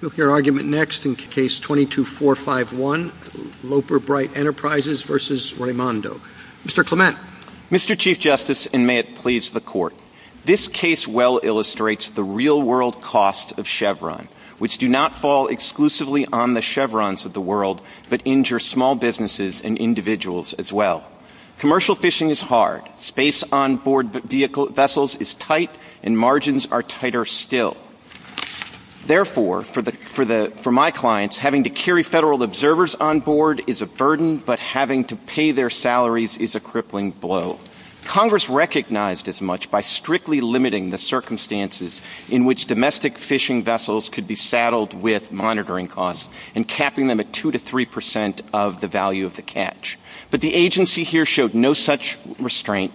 Mr. Chief Justice, and may it please the Court, this case well illustrates the real-world cost of Chevron, which do not fall exclusively on the Chevrons of the world, but injure small businesses and individuals as well. Commercial fishing is hard, space onboard vessels is tight, and margins are tighter still. Therefore, for my clients, having to carry Federal observers onboard is a burden, but having to pay their salaries is a crippling blow. Congress recognized as much by strictly limiting the circumstances in which domestic fishing vessels could be saddled with monitoring costs and capping them at 2 to 3 percent of the value of the catch. But the agency here showed no such restraint,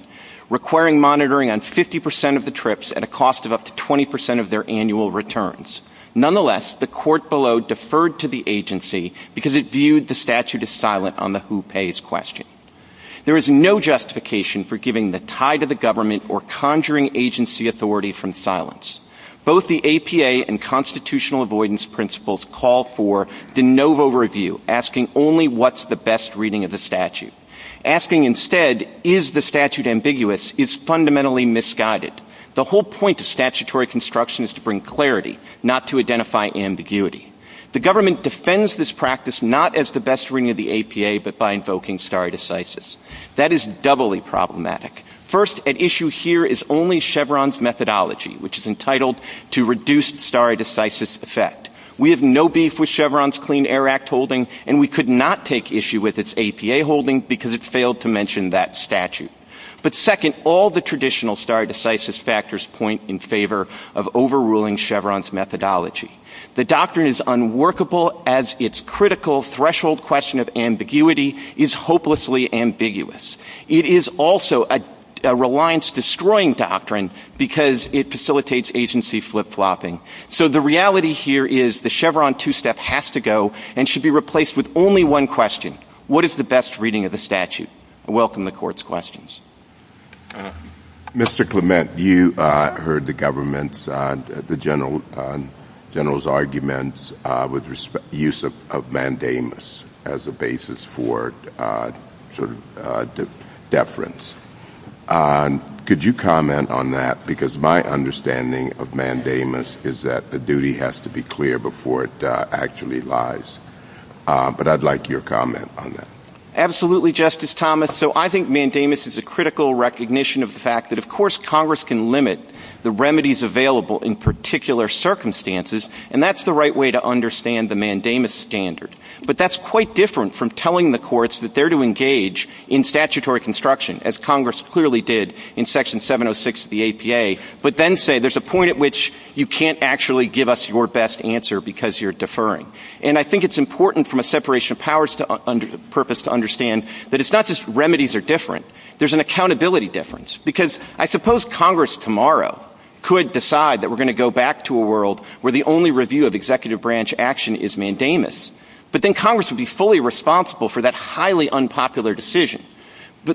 requiring monitoring on 50 percent of the trips at a cost of up to 20 percent of their annual returns. Nonetheless, the Court below deferred to the agency because it viewed the statute as silent on the who pays question. There is no justification for giving the tide of the government or conjuring agency authority from silence. Both the APA and constitutional avoidance principles call for de novo review, asking only what is the best reading of the statute. Asking instead, is the statute ambiguous, is fundamentally misguided. The whole point of statutory construction is to bring clarity, not to identify ambiguity. The government defends this practice not as the best reading of the APA, but by invoking stare decisis. That is doubly problematic. First, at issue here is only Chevron's methodology, which is entitled to reduce stare decisis effect. We have no beef with Chevron's Clean Air Act holding, and we could not take issue with its APA holding because it failed to mention that statute. But second, all the traditional stare decisis factors point in favor of overruling Chevron's methodology. The doctrine is unworkable as its critical threshold question of ambiguity is hopelessly ambiguous. It is also a reliance-destroying doctrine because it facilitates agency flip-flopping. So the reality here is the Chevron two-step has to go and should be replaced with only one question. What is the best reading of the statute? I welcome the Court's questions. Mr. Clement, you heard the general's arguments with use of mandamus as a basis for deference. Could you comment on that? Because my understanding of mandamus is that the duty has to be clear before it actually lies. But I'd like your comment on that. Absolutely, Justice Thomas. So I think mandamus is a critical recognition of the fact that, of course, Congress can limit the remedies available in particular circumstances, and that's the right way to understand the mandamus standard. But that's quite different from telling the courts that they're to engage in statutory construction, as Congress clearly did in Section 706 of the APA, but then say there's a point at which you can't actually give us your best answer because you're deferring. And I think it's important from a separation of powers purpose to understand that it's not just remedies are different. There's an accountability difference. Because I suppose Congress tomorrow could decide that we're going to go back to a world where the only review of executive branch action is mandamus. But then Congress would be fully responsible for that highly unpopular decision.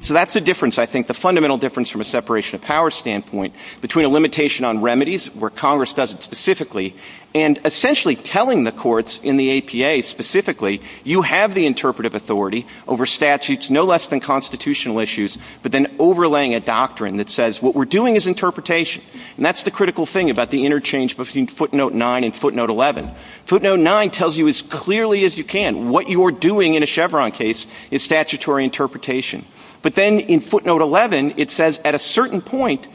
So that's the difference, I think, the fundamental difference from a separation of powers standpoint, between a limitation on remedies, where Congress does it specifically, and essentially telling the courts in the APA specifically, you have the interpretive authority over statutes no less than constitutional issues, but then overlaying a doctrine that says what we're doing is interpretation. And that's the critical thing about the interchange between footnote 9 and footnote 11. Footnote 9 tells you as clearly as you can what you are doing in a Chevron case is statutory interpretation. But then in footnote 11, it says at a certain point,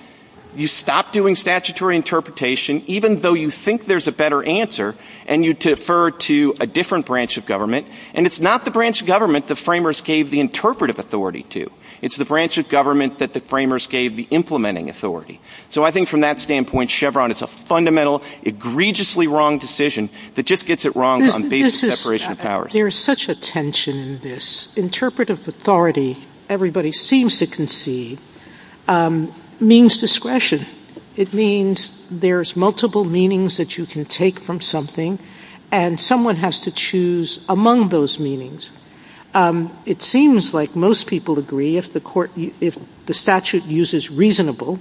you stop doing statutory interpretation, even though you think there's a better answer, and you defer to a different branch of government. And it's not the branch of government the framers gave the interpretive authority to. It's the branch of government that the framers gave the implementing authority. So I think from that standpoint, Chevron is a fundamental, egregiously wrong decision that just gets it wrong on basis of separation of powers. There's such a tension in this. Interpretive authority, everybody seems to concede, means discretion. It means there's multiple meanings that you can take from something, and someone has to choose among those meanings. It seems like most people agree if the statute uses reasonable,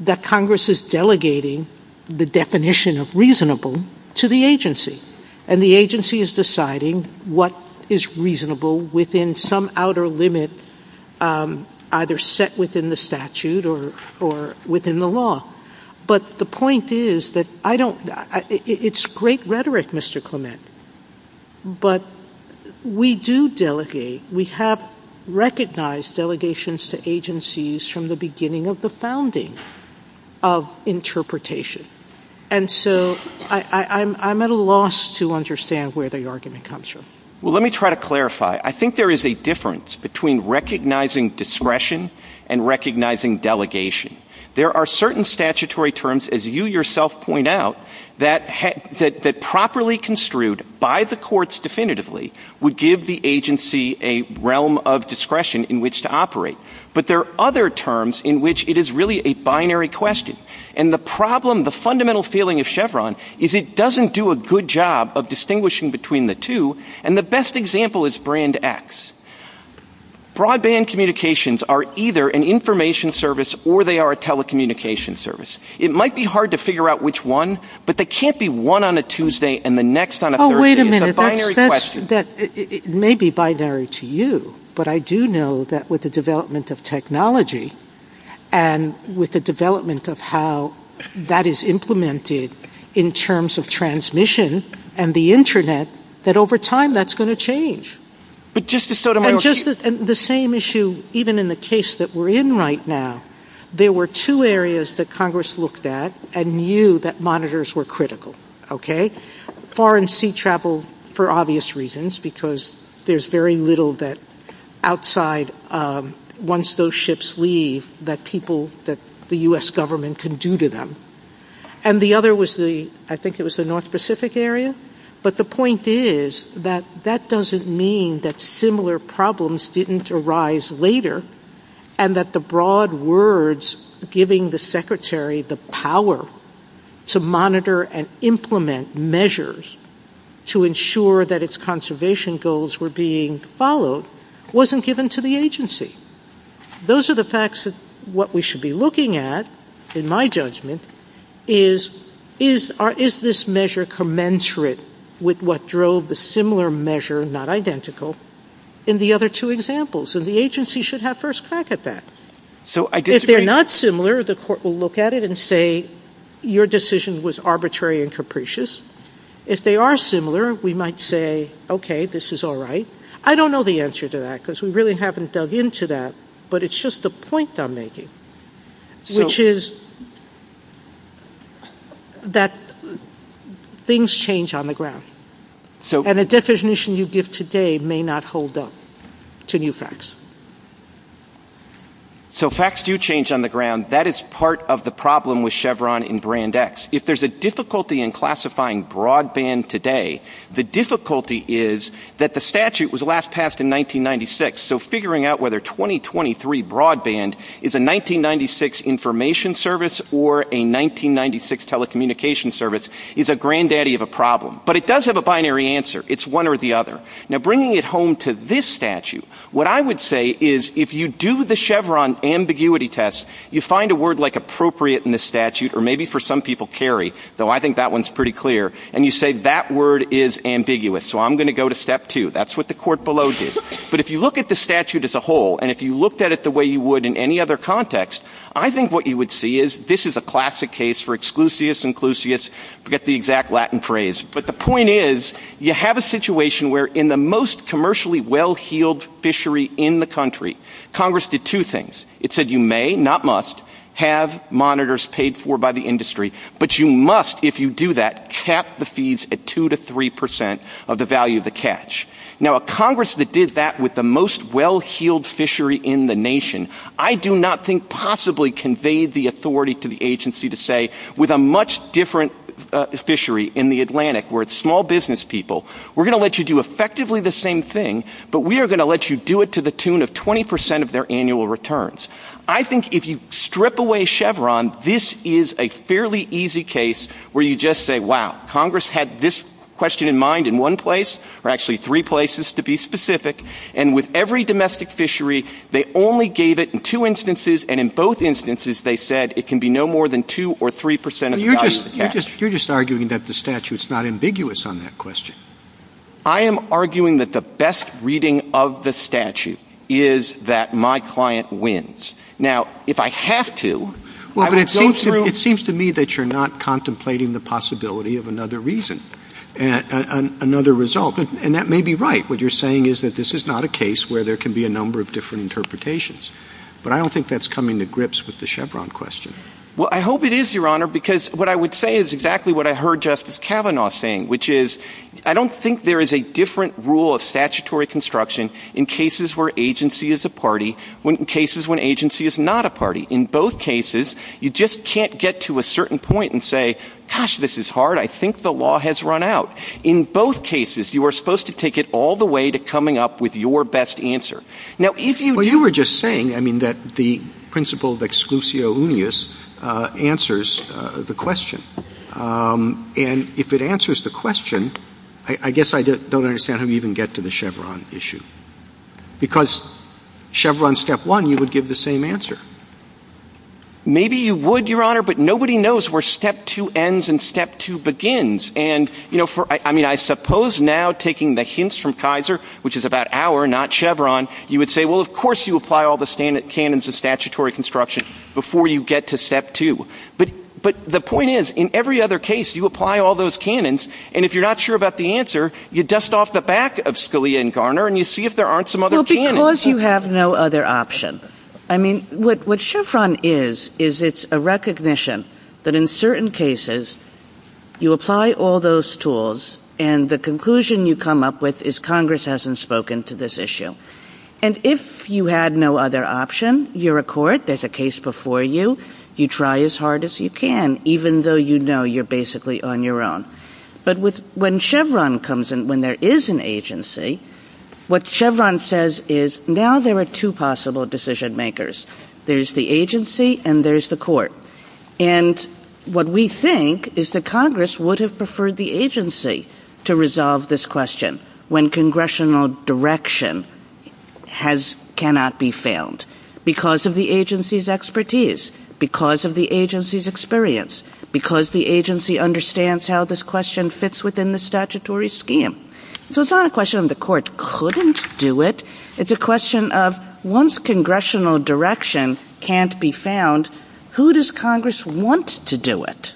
that Congress is delegating the definition of reasonable to the agency. And the agency is deciding what is reasonable within some outer limit, either set within the statute or within the law. But the point is that it's great rhetoric, Mr. Clement, but we do delegate. We have recognized delegations to agencies from the beginning of the founding of interpretation. And so I'm at a loss to understand where the argument comes from. Well, let me try to clarify. I think there is a difference between recognizing discretion and recognizing delegation. There are certain statutory terms, as you yourself point out, that properly construed by the courts definitively would give the agency a realm of discretion in which to operate. But there are other terms in which it is really a binary question. And the problem, the fundamental feeling of Chevron is it doesn't do a good job of distinguishing between the two. And the best example is Brand X. Broadband communications are either an information service or they are a telecommunications service. It might be hard to figure out which one, but they can't be one on a Tuesday and the next on a Thursday. It's a binary question. Oh, wait a minute. It may be binary to you, but I do know that with the development of technology and with the development of how that is implemented in terms of transmission and the Internet, that over time that's going to change. And just the same issue, even in the case that we're in right now, there were two areas that Congress looked at and knew that monitors were critical. Foreign sea travel, for obvious reasons, because there's very little that outside once those ships leave that people, that the U.S. government can do to them. And the other was the, I think it was the North Pacific area. But the point is that that doesn't mean that similar problems didn't arise later, and that the broad words giving the secretary the power to monitor and implement measures to ensure that its conservation goals were being followed wasn't given to the agency. Those are the facts that what we should be looking at, in my judgment, is this measure commensurate with what drove the similar measure, not identical, in the other two examples. And the agency should have first crack at that. If they're not similar, the court will look at it and say, your decision was arbitrary and capricious. If they are similar, we might say, okay, this is all right. I don't know the answer to that, because we really haven't dug into that. But it's just the point I'm making, which is that things change on the ground. And the definition you give today may not hold up to new facts. So facts do change on the ground. That is part of the problem with Chevron and Brand X. If there's a difficulty in classifying broadband today, the difficulty is that the statute was last passed in 1996. So figuring out whether 2023 broadband is a 1996 information service or a 1996 telecommunications service is a granddaddy of a problem. But it does have a binary answer. It's one or the other. Now, bringing it home to this statute, what I would say is, if you do the Chevron ambiguity test, you find a word like appropriate in the statute, or maybe for some people carry, though I think that one's pretty clear, and you say, that word is ambiguous, so I'm going to go to step two. That's what the court below did. But if you look at the statute as a whole, and if you looked at it the way you would in any other context, I think what you would see is, this is a classic case for exclusius, inclusius, forget the exact Latin phrase. But the point is, you have a situation where in the most commercially well-heeled fishery in the country, Congress did two things. It said you may, not must, have monitors paid for by the industry, but you must, if you do that, cap the fees at 2% to 3% of the value of the catch. Now, a Congress that did that with the most well-heeled fishery in the nation, I do not think possibly conveyed the authority to the agency to say, with a much different fishery in the Atlantic, where it's small business people, we're going to let you do effectively the same thing, but we are going to let you do it to the tune of 20% of their annual returns. I think if you strip away Chevron, this is a fairly easy case where you just say, wow, Congress had this question in mind in one place, or actually three places to be specific, and with every domestic fishery, they only gave it in two instances, and in both instances, they said it can be no more than 2% or 3% of the value of the catch. You're just arguing that the statute's not ambiguous on that question. I am arguing that the best reading of the statute is that my client wins. Now, if I have to, I would go through— Well, but it seems to me that you're not contemplating the possibility of another reason, another result. And that may be right. What you're saying is that this is not a case where there can be a number of different interpretations. But I don't think that's coming to grips with the Chevron question. Well, I hope it is, Your Honor, because what I would say is exactly what I heard Justice Kavanaugh saying, which is I don't think there is a different rule of statutory construction in cases where agency is a party than in cases where agency is not a party. In both cases, you just can't get to a certain point and say, gosh, this is hard. I think the law has run out. In both cases, you are supposed to take it all the way to coming up with your best answer. Now, if you— Well, you were just saying, I mean, that the principle of exclusio unius answers the question. And if it answers the question, I guess I don't understand how you even get to the Chevron issue. Because Chevron step one, you would give the same answer. Maybe you would, Your Honor, but nobody knows where step two ends and step two begins. And, you know, I mean, I suppose now taking the hints from Kaiser, which is about our, not Chevron, you would say, well, of course you apply all the standard canons of statutory construction before you get to step two. But the point is, in every other case, you apply all those canons, and if you're not sure about the answer, you dust off the back of Scalia and Garner and you see if there aren't some other canons. Well, because you have no other option. I mean, what Chevron is, is it's a recognition that in certain cases you apply all those tools and the conclusion you come up with is Congress hasn't spoken to this issue. And if you had no other option, you're a court. There's a case before you. You try as hard as you can, even though you know you're basically on your own. But when Chevron comes in, when there is an agency, what Chevron says is now there are two possible decision makers. There's the agency and there's the court. And what we think is that Congress would have preferred the agency to resolve this question when congressional direction cannot be found because of the agency's expertise, because of the agency's experience, because the agency understands how this question fits within the statutory scheme. So it's not a question of the court couldn't do it. It's a question of once congressional direction can't be found, who does Congress want to do it?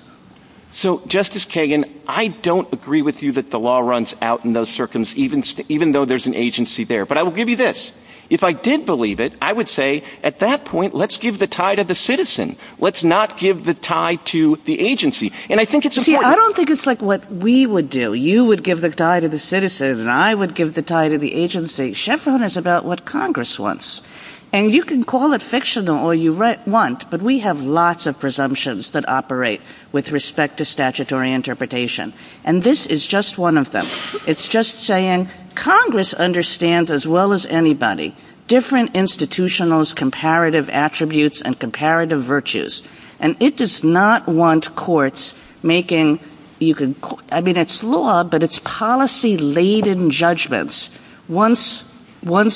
So, Justice Kagan, I don't agree with you that the law runs out in those circumstances, even though there's an agency there. But I will give you this. If I did believe it, I would say at that point, let's give the tie to the citizen. Let's not give the tie to the agency. And I think it's important. See, I don't think it's like what we would do. You would give the tie to the citizen and I would give the tie to the agency. Chevron is about what Congress wants. And you can call it fictional all you want, but we have lots of presumptions that operate with respect to statutory interpretation. And this is just one of them. It's just saying Congress understands as well as anybody different institutional's comparative attributes and comparative virtues. And it does not want courts making, I mean, it's law, but it's policy-laden judgments. Once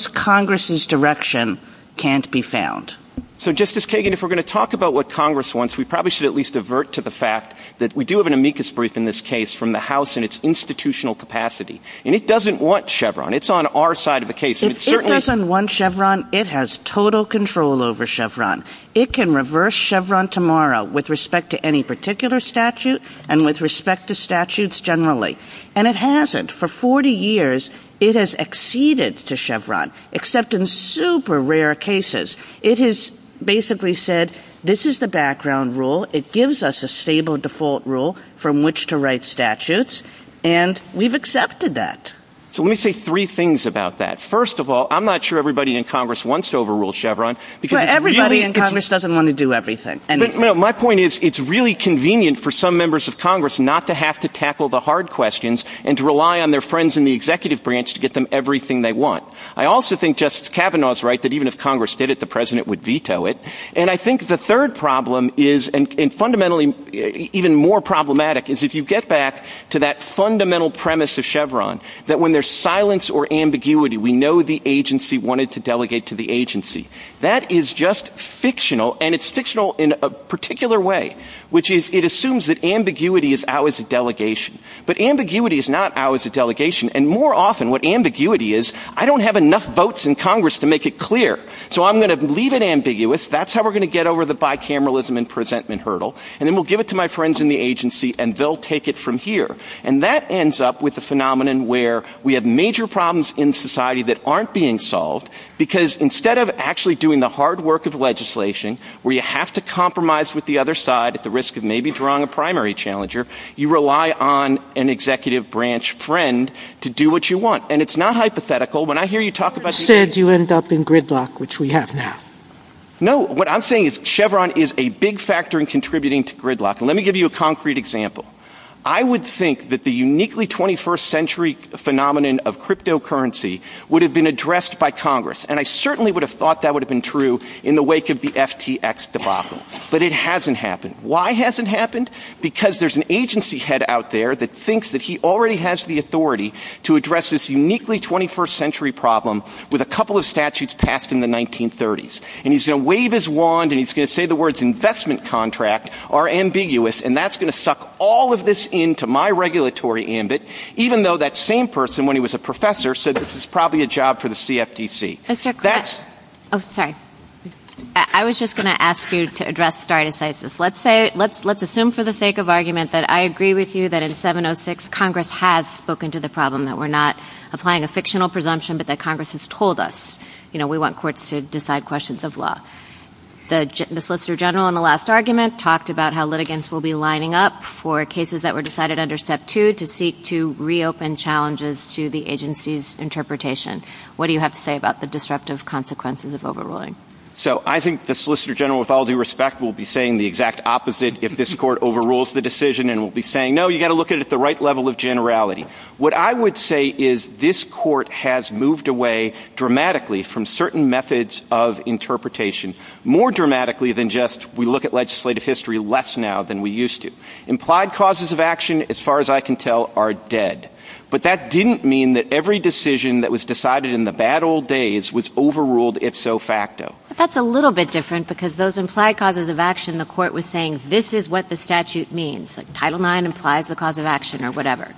Congress's direction can't be found. So, Justice Kagan, if we're going to talk about what Congress wants, we probably should at least avert to the fact that we do have an amicus brief in this case from the House in its institutional capacity. And it doesn't want Chevron. It's on our side of the case. It doesn't want Chevron. It has total control over Chevron. It can reverse Chevron tomorrow with respect to any particular statute and with respect to statutes generally. And it hasn't. For 40 years, it has acceded to Chevron, except in super rare cases. It has basically said, this is the background rule. It gives us a stable default rule from which to write statutes. And we've accepted that. So, let me say three things about that. First of all, I'm not sure everybody in Congress wants to overrule Chevron. Everybody in Congress doesn't want to do everything. My point is, it's really convenient for some members of Congress not to have to tackle the hard questions and to rely on their friends in the executive branch to get them everything they want. I also think Justice Kavanaugh is right that even if Congress did it, the President would veto it. And I think the third problem is, and fundamentally even more problematic, is if you get back to that fundamental premise of Chevron, that when there's silence or ambiguity, we know the agency wanted to delegate to the agency. That is just fictional. And it's fictional in a particular way, which is it assumes that ambiguity is out as a delegation. But ambiguity is not out as a delegation. And more often, what ambiguity is, I don't have enough votes in Congress to make it clear. So, I'm going to leave it ambiguous. That's how we're going to get over the bicameralism and presentment hurdle. And then we'll give it to my friends in the agency, and they'll take it from here. And that ends up with a phenomenon where we have major problems in society that aren't being solved, because instead of actually doing the hard work of legislation, where you have to compromise with the other side at the risk of maybe drawing a primary challenger, you rely on an executive branch friend to do what you want. And it's not hypothetical. When I hear you talk about... You said you ended up in gridlock, which we have now. No. What I'm saying is Chevron is a big factor in contributing to gridlock. And let me give you a concrete example. I would think that the uniquely 21st century phenomenon of cryptocurrency would have been addressed by Congress. And I certainly would have thought that would have been true in the wake of the FTX debacle. But it hasn't happened. Why has it happened? Because there's an agency head out there that thinks that he already has the authority to address this uniquely 21st century problem with a couple of statutes passed in the 1930s. And he's going to wave his wand and he's going to say the words investment contract are ambiguous, and that's going to suck all of this into my regulatory ambit, even though that same person, when he was a professor, said this is probably a job for the CFTC. I was just going to ask you to address stare decisis. Let's assume for the sake of argument that I agree with you that in 706 Congress has spoken to the problem, that we're not applying a fictional presumption, but that Congress has told us we want courts to decide questions of law. The Solicitor General in the last argument talked about how litigants will be lining up for cases that were decided under Step 2 to seek to reopen challenges to the agency's interpretation. What do you have to say about the disruptive consequences of overruling? So I think the Solicitor General, with all due respect, will be saying the exact opposite if this court overrules the decision and will be saying no, you've got to look at it at the right level of generality. What I would say is this court has moved away dramatically from certain methods of interpretation more dramatically than just we look at legislative history less now than we used to. Implied causes of action, as far as I can tell, are dead. But that didn't mean that every decision that was decided in the bad old days was overruled ifso facto. But that's a little bit different because those implied causes of action the court was saying this is what the statute means. Title IX implies the cause of action or whatever.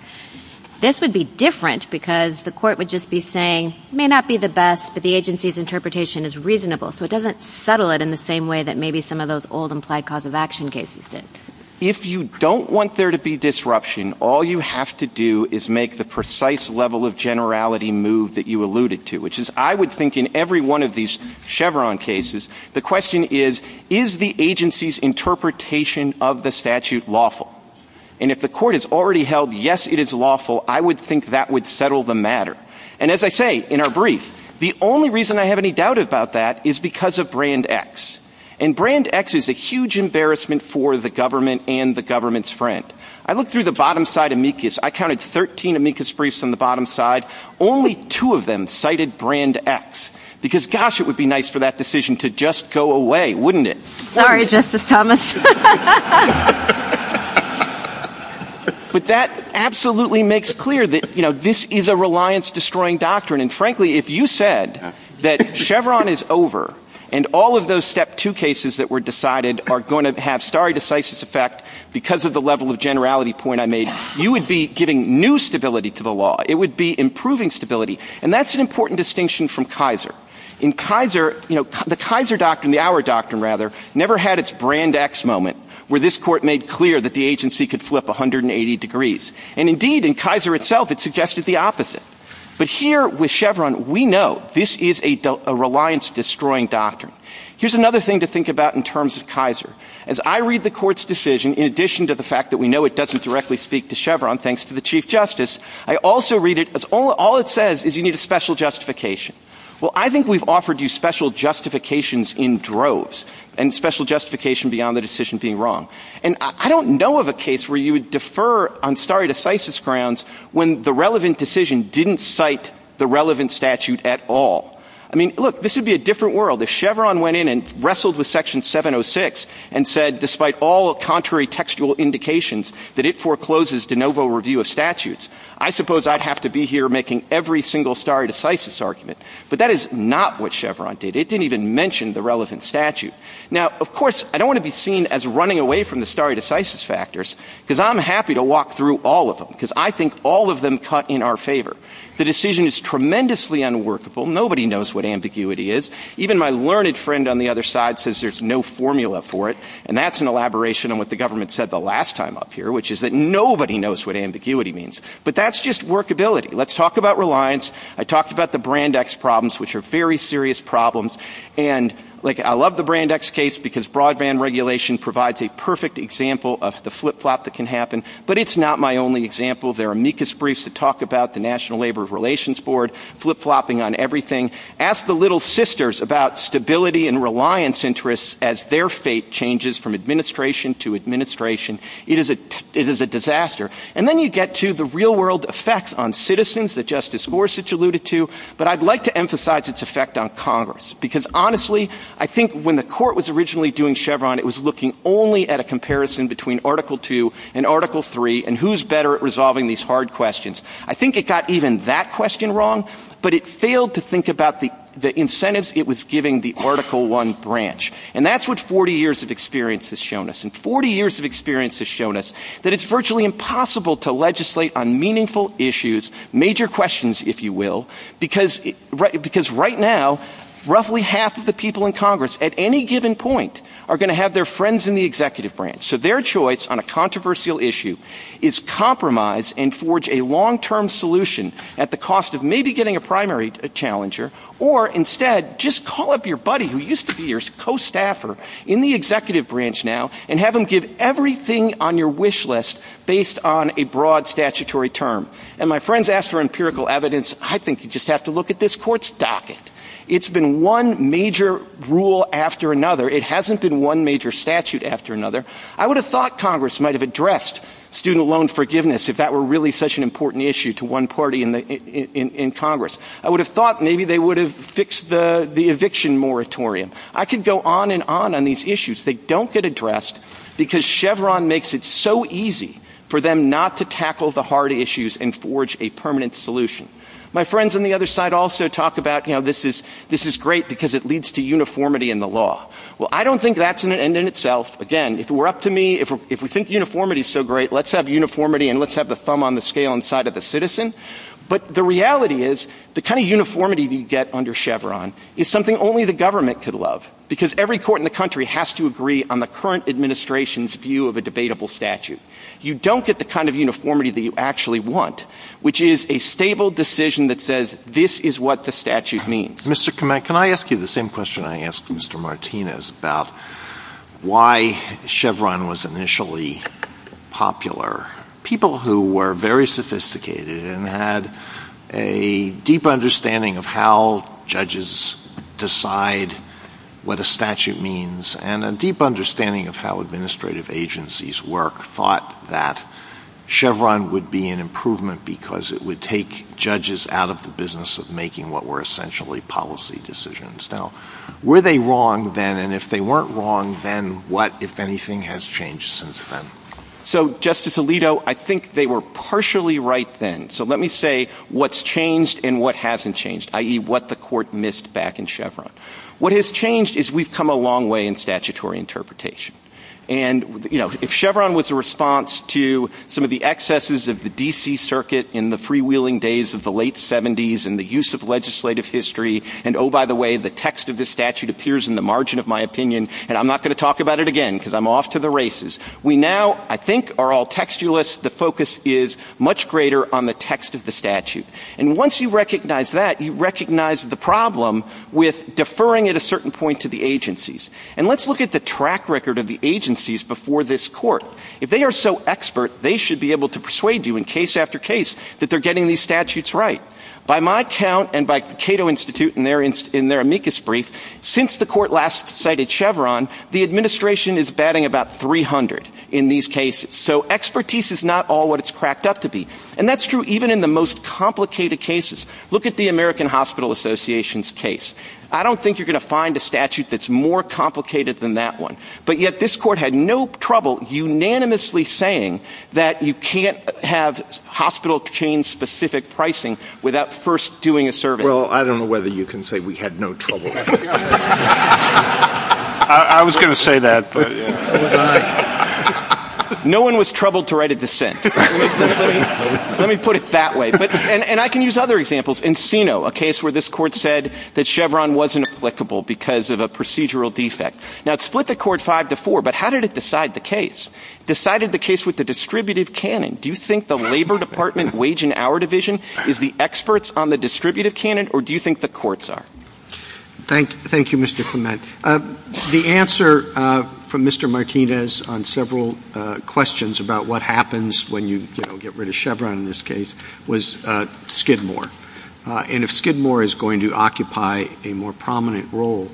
This would be different because the court would just be saying it may not be the best, but the agency's interpretation is reasonable. So it doesn't settle it in the same way that maybe some of those old implied cause of action cases did. If you don't want there to be disruption, all you have to do is make the precise level of generality move that you alluded to, which is I would think in every one of these Chevron cases, the question is, is the agency's interpretation of the statute lawful? And if the court has already held yes, it is lawful, I would think that would settle the matter. And as I say in our brief, the only reason I have any doubt about that is because of Brand X. And Brand X is a huge embarrassment for the government and the government's friend. I looked through the bottom side amicus. I counted 13 amicus briefs on the bottom side. Only two of them cited Brand X because gosh, it would be nice for that decision to just go away, wouldn't it? Sorry, Justice Thomas. But that absolutely makes clear that this is a reliance-destroying doctrine. And frankly, if you said that Chevron is over and all of those Step 2 cases that were decided are going to have stare decisis effect because of the level of generality point I made, you would be giving new stability to the law. It would be improving stability. And that's an important distinction from Kaiser. In Kaiser, the Kaiser doctrine, the our doctrine rather, never had its Brand X moment where this court made clear that the agency could flip 180 degrees. And indeed, in Kaiser itself, it suggested the opposite. But here with Chevron, we know this is a reliance-destroying doctrine. Here's another thing to think about in terms of Kaiser. As I read the court's decision, in addition to the fact that we know it doesn't directly speak to Chevron, thanks to the Chief Justice, I also read it as all it says is you need a special justification. Well, I think we've offered you special justifications in droves and special justification beyond the decision being wrong. And I don't know of a case where you would defer on stare decisis grounds when the relevant decision didn't cite the relevant statute at all. I mean, look, this would be a different world. If Chevron went in and wrestled with Section 706 and said, despite all contrary textual indications, that it forecloses de novo review of statutes, I suppose I'd have to be here making every single stare decisis argument. But that is not what Chevron did. It didn't even mention the relevant statute. Now, of course, I don't want to be seen as running away from the stare decisis factors, because I'm happy to walk through all of them, because I think all of them cut in our favor. The decision is tremendously unworkable. Nobody knows what ambiguity is. Even my learned friend on the other side says there's no formula for it, and that's an elaboration on what the government said the last time up here, which is that nobody knows what ambiguity means. But that's just workability. Let's talk about reliance. I talked about the Brand X problems, which are very serious problems. And I love the Brand X case, because broadband regulation provides a perfect example of the flip-flop that can happen. But it's not my only example. There are amicus briefs that talk about the National Labor Relations Board flip-flopping on everything. Ask the Little Sisters about stability and reliance interests as their fate changes from administration to administration. It is a disaster. And then you get to the real-world effects on citizens that Justice Gorsuch alluded to, but I'd like to emphasize its effect on Congress. Because, honestly, I think when the court was originally doing Chevron, it was looking only at a comparison between Article II and Article III, and who's better at resolving these hard questions. I think it got even that question wrong, but it failed to think about the incentives it was giving the Article I branch. And that's what 40 years of experience has shown us. And 40 years of experience has shown us that it's virtually impossible to legislate on meaningful issues, major questions, if you will, because right now, roughly half of the people in Congress, at any given point, are going to have their friends in the executive branch. So their choice on a controversial issue is compromise and forge a long-term solution at the cost of maybe getting a primary challenger, or instead, just call up your buddy who used to be your co-staffer in the executive branch now, and have him give everything on your wish list based on a broad statutory term. And my friends asked for empirical evidence. I think you just have to look at this court's docket. It's been one major rule after another. It hasn't been one major statute after another. I would have thought Congress might have addressed student loan forgiveness if that were really such an important issue to one party in Congress. I would have thought maybe they would have fixed the eviction moratorium. I could go on and on on these issues. They don't get addressed because Chevron makes it so easy for them not to tackle the hard issues and forge a permanent solution. My friends on the other side also talk about, you know, this is great because it leads to uniformity in the law. Well, I don't think that's an end in itself. Again, if it were up to me, if we think uniformity is so great, let's have uniformity and let's have the thumb on the scale inside of the citizen. But the reality is the kind of uniformity you get under Chevron is something only the government could love, because every court in the country has to agree on the current administration's view of a debatable statute. You don't get the kind of uniformity that you actually want, which is a stable decision that says this is what the statute means. Mr. Clement, can I ask you the same question I asked Mr. Martinez about why Chevron was initially popular? People who were very sophisticated and had a deep understanding of how judges decide what a statute means and a deep understanding of how administrative agencies work thought that Chevron would be an improvement because it would take judges out of the business of making what were essentially policy decisions. Now, were they wrong then? And if they weren't wrong, then what, if anything, has changed since then? So, Justice Alito, I think they were partially right then. So let me say what's changed and what hasn't changed, i.e. what the court missed back in Chevron. What has changed is we've come a long way in statutory interpretation. And if Chevron was a response to some of the excesses of the D.C. Circuit in the freewheeling days of the late 70s and the use of legislative history, and oh, by the way, the text of this statute appears in the margin of my opinion, and I'm not going to talk about it again because I'm off to the races. We now, I think, are all textualists. The focus is much greater on the text of the statute. And once you recognize that, you recognize the problem with deferring at a certain point to the agencies. And let's look at the track record of the agencies before this court. If they are so expert, they should be able to persuade you in case after case that they're getting these statutes right. By my count and by Cato Institute in their amicus brief, since the court last cited Chevron, the administration is batting about 300 in these cases. So expertise is not all what it's cracked up to be. And that's true even in the most complicated cases. Look at the American Hospital Association's case. I don't think you're going to find a statute that's more complicated than that one. But yet this court had no trouble unanimously saying that you can't have hospital chain-specific pricing without first doing a survey. Well, I don't know whether you can say we had no trouble. I was going to say that. No one was troubled to write a dissent. Let me put it that way. And I can use other examples. Encino, a case where this court said that Chevron wasn't applicable because of a procedural defect. Now it split the court five to four, but how did it decide the case? It decided the case with the distributive canon. Do you think the Labor Department Wage and Hour Division is the experts on the distributive canon, or do you think the courts are? Thank you, Mr. Clement. The answer from Mr. Martinez on several questions about what happens when you get rid of Chevron in this case was Skidmore. And if Skidmore is going to occupy a more prominent role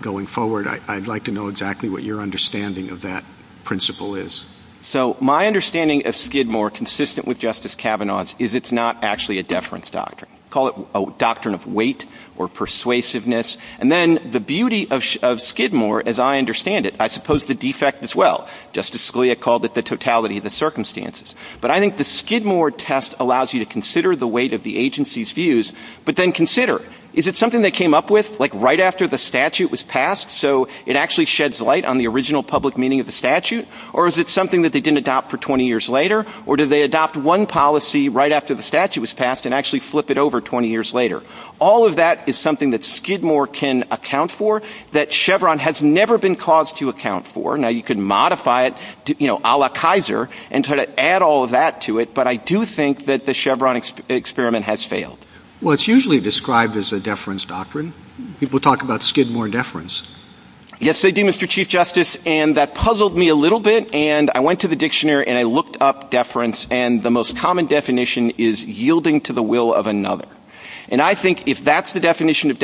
going forward, I'd like to know exactly what your understanding of that principle is. So my understanding of Skidmore, consistent with Justice Kavanaugh's, is it's not actually a deference doctrine. Call it a doctrine of weight or persuasiveness. And then the beauty of Skidmore, as I understand it, I suppose the defect as well. Justice Scalia called it the totality of the circumstances. But I think the Skidmore test allows you to consider the weight of the agency's views, but then consider, is it something they came up with like right after the statute was passed so it actually sheds light on the original public meaning of the statute? Or is it something that they didn't adopt for 20 years later? Or did they adopt one policy right after the statute was passed and actually flip it over 20 years later? All of that is something that Skidmore can account for, that Chevron has never been caused to account for. Now, you can modify it, you know, a la Kaiser, and try to add all of that to it, but I do think that the Chevron experiment has failed. Well, it's usually described as a deference doctrine. People talk about Skidmore deference. Yes, they do, Mr. Chief Justice. And that puzzled me a little bit. And I went to the dictionary and I looked up deference, and the most common definition is yielding to the will of another. And I think if that's the definition of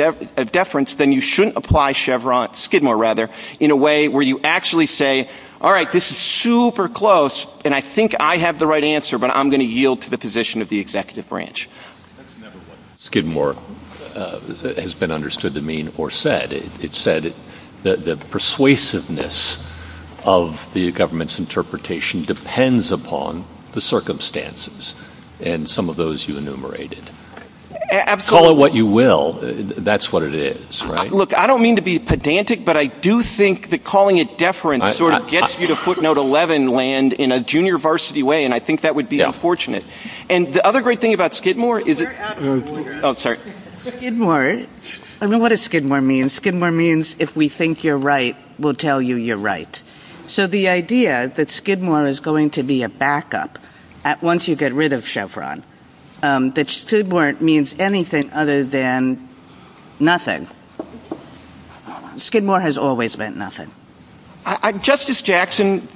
deference, then you shouldn't apply Skidmore in a way where you actually say, all right, this is super close, and I think I have the right answer, but I'm going to yield to the position of the executive branch. Skidmore has been understood to mean or said. It said that the persuasiveness of the government's interpretation depends upon the circumstances and some of those you enumerated. Absolutely. Call it what you will. That's what it is. Look, I don't mean to be pedantic, but I do think that calling it deference sort of gets you to footnote 11 land in a junior varsity way, and I think that would be unfortunate. And the other great thing about Skidmore is it – Oh, sorry. Skidmore, I don't know what a Skidmore means. Skidmore means if we think you're right, we'll tell you you're right. So the idea that Skidmore is going to be a backup once you get rid of Chevron, that Skidmore means anything other than nothing. Skidmore has always meant nothing. Justice Jackson,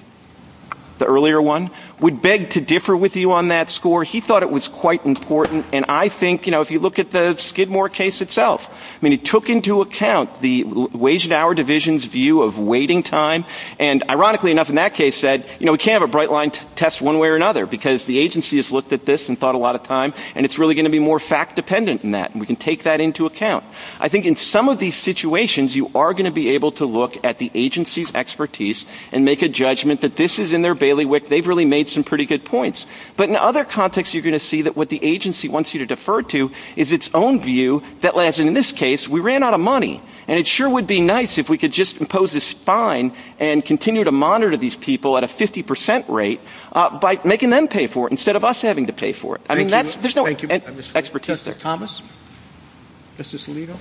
the earlier one, would beg to differ with you on that score. He thought it was quite important, and I think if you look at the Skidmore case itself, he took into account the Wage and Hour Division's view of waiting time and, ironically enough in that case, said we can't have a bright line test one way or another because the agency has looked at this and thought a lot of time, and it's really going to be more fact-dependent than that, and we can take that into account. I think in some of these situations, you are going to be able to look at the agency's expertise and make a judgment that this is in their bailiwick. They've really made some pretty good points. But in other contexts, you're going to see that what the agency wants you to defer to is its own view that, in this case, we ran out of money, and it sure would be nice if we could just impose this fine and continue to monitor these people at a 50% rate by making them pay for it instead of us having to pay for it. I mean, there's no expertise there. Thank you. Justice Thomas? Justice Alito?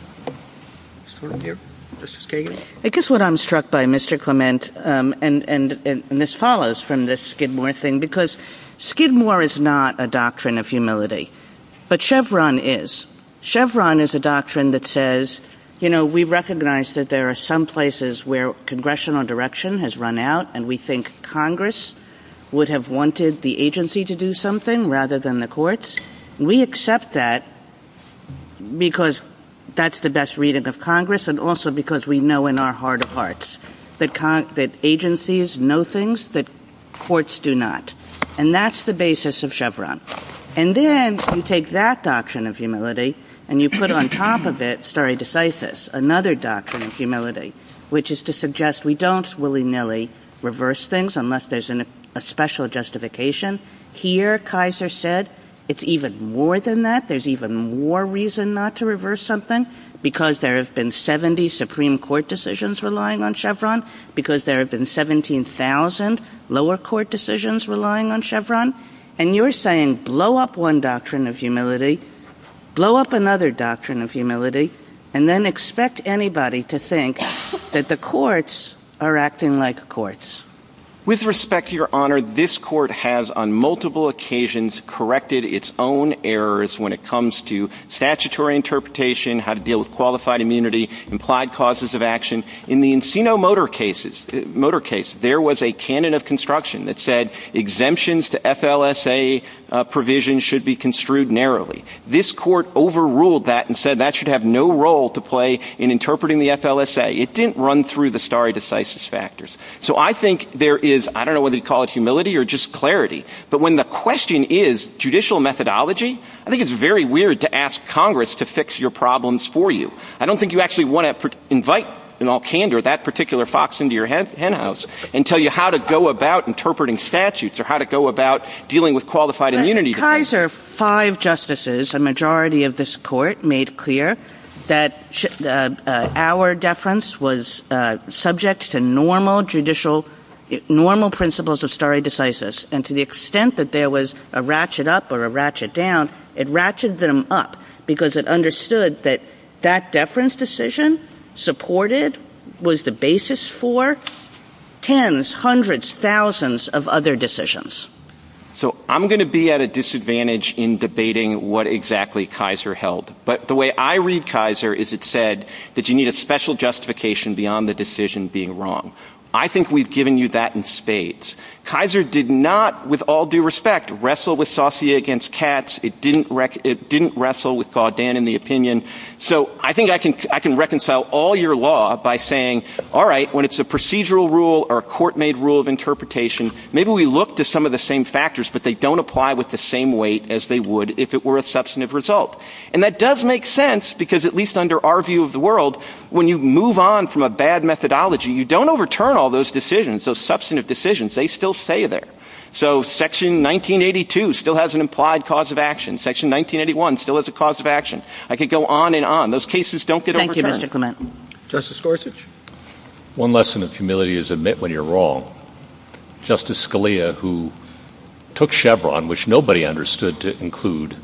Ms. Fortenbeer? Justice Kagan? I guess what I'm struck by, Mr. Clement, and Ms. Palos from this Skidmore thing, because Skidmore is not a doctrine of humility, but Chevron is. Chevron is a doctrine that says, you know, we recognize that there are some places where congressional direction has run out, and we think Congress would have wanted the agency to do something rather than the courts. We accept that because that's the best reading of Congress and also because we know in our heart of hearts that agencies know things that courts do not. And that's the basis of Chevron. And then you take that doctrine of humility and you put on top of it stare decisis, another doctrine of humility, which is to suggest we don't willy-nilly reverse things unless there's a special justification. Here, Kaiser said, it's even more than that. There's even more reason not to reverse something because there have been 70 Supreme Court decisions relying on Chevron, because there have been 17,000 lower court decisions relying on Chevron. And you're saying blow up one doctrine of humility, blow up another doctrine of humility, and then expect anybody to think that the courts are acting like courts. With respect, Your Honor, this court has on multiple occasions corrected its own errors when it comes to statutory interpretation, how to deal with qualified immunity, implied causes of action. In the Encino motor case, there was a canon of construction that said exemptions to FLSA provisions should be construed narrowly. This court overruled that and said that should have no role to play in interpreting the FLSA. It didn't run through the stare decisis factors. So I think there is, I don't know whether you call it humility or just clarity, but when the question is judicial methodology, I think it's very weird to ask Congress to fix your problems for you. I don't think you actually want to invite in all candor that particular fox into your hen house and tell you how to go about interpreting statutes or how to go about dealing with qualified immunity. Because there are five justices, a majority of this court made clear that our deference was subject to normal judicial, normal principles of stare decisis. And to the extent that there was a ratchet up or a ratchet down, it ratcheted them up because it understood that that deference decision supported, was the basis for tens, hundreds, thousands of other decisions. So I'm going to be at a disadvantage in debating what exactly Kaiser held. But the way I read Kaiser is it said that you need a special justification beyond the decision being wrong. I think we've given you that in spades. Kaiser did not, with all due respect, wrestle with Saussure against Katz. It didn't wrestle with Gaudin in the opinion. So I think I can reconcile all your law by saying, all right, when it's a procedural rule or a court made rule of interpretation, maybe we look to some of the same factors, but they don't apply with the same weight as they would if it were a substantive result. And that does make sense because, at least under our view of the world, when you move on from a bad methodology, you don't overturn all those decisions, those substantive decisions. They still stay there. So Section 1982 still has an implied cause of action. Section 1981 still has a cause of action. I could go on and on. Those cases don't get overturned. Thank you, Mr. Clement. Justice Gorsuch? One lesson of humility is admit when you're wrong. Justice Scalia, who took Chevron, which nobody understood to include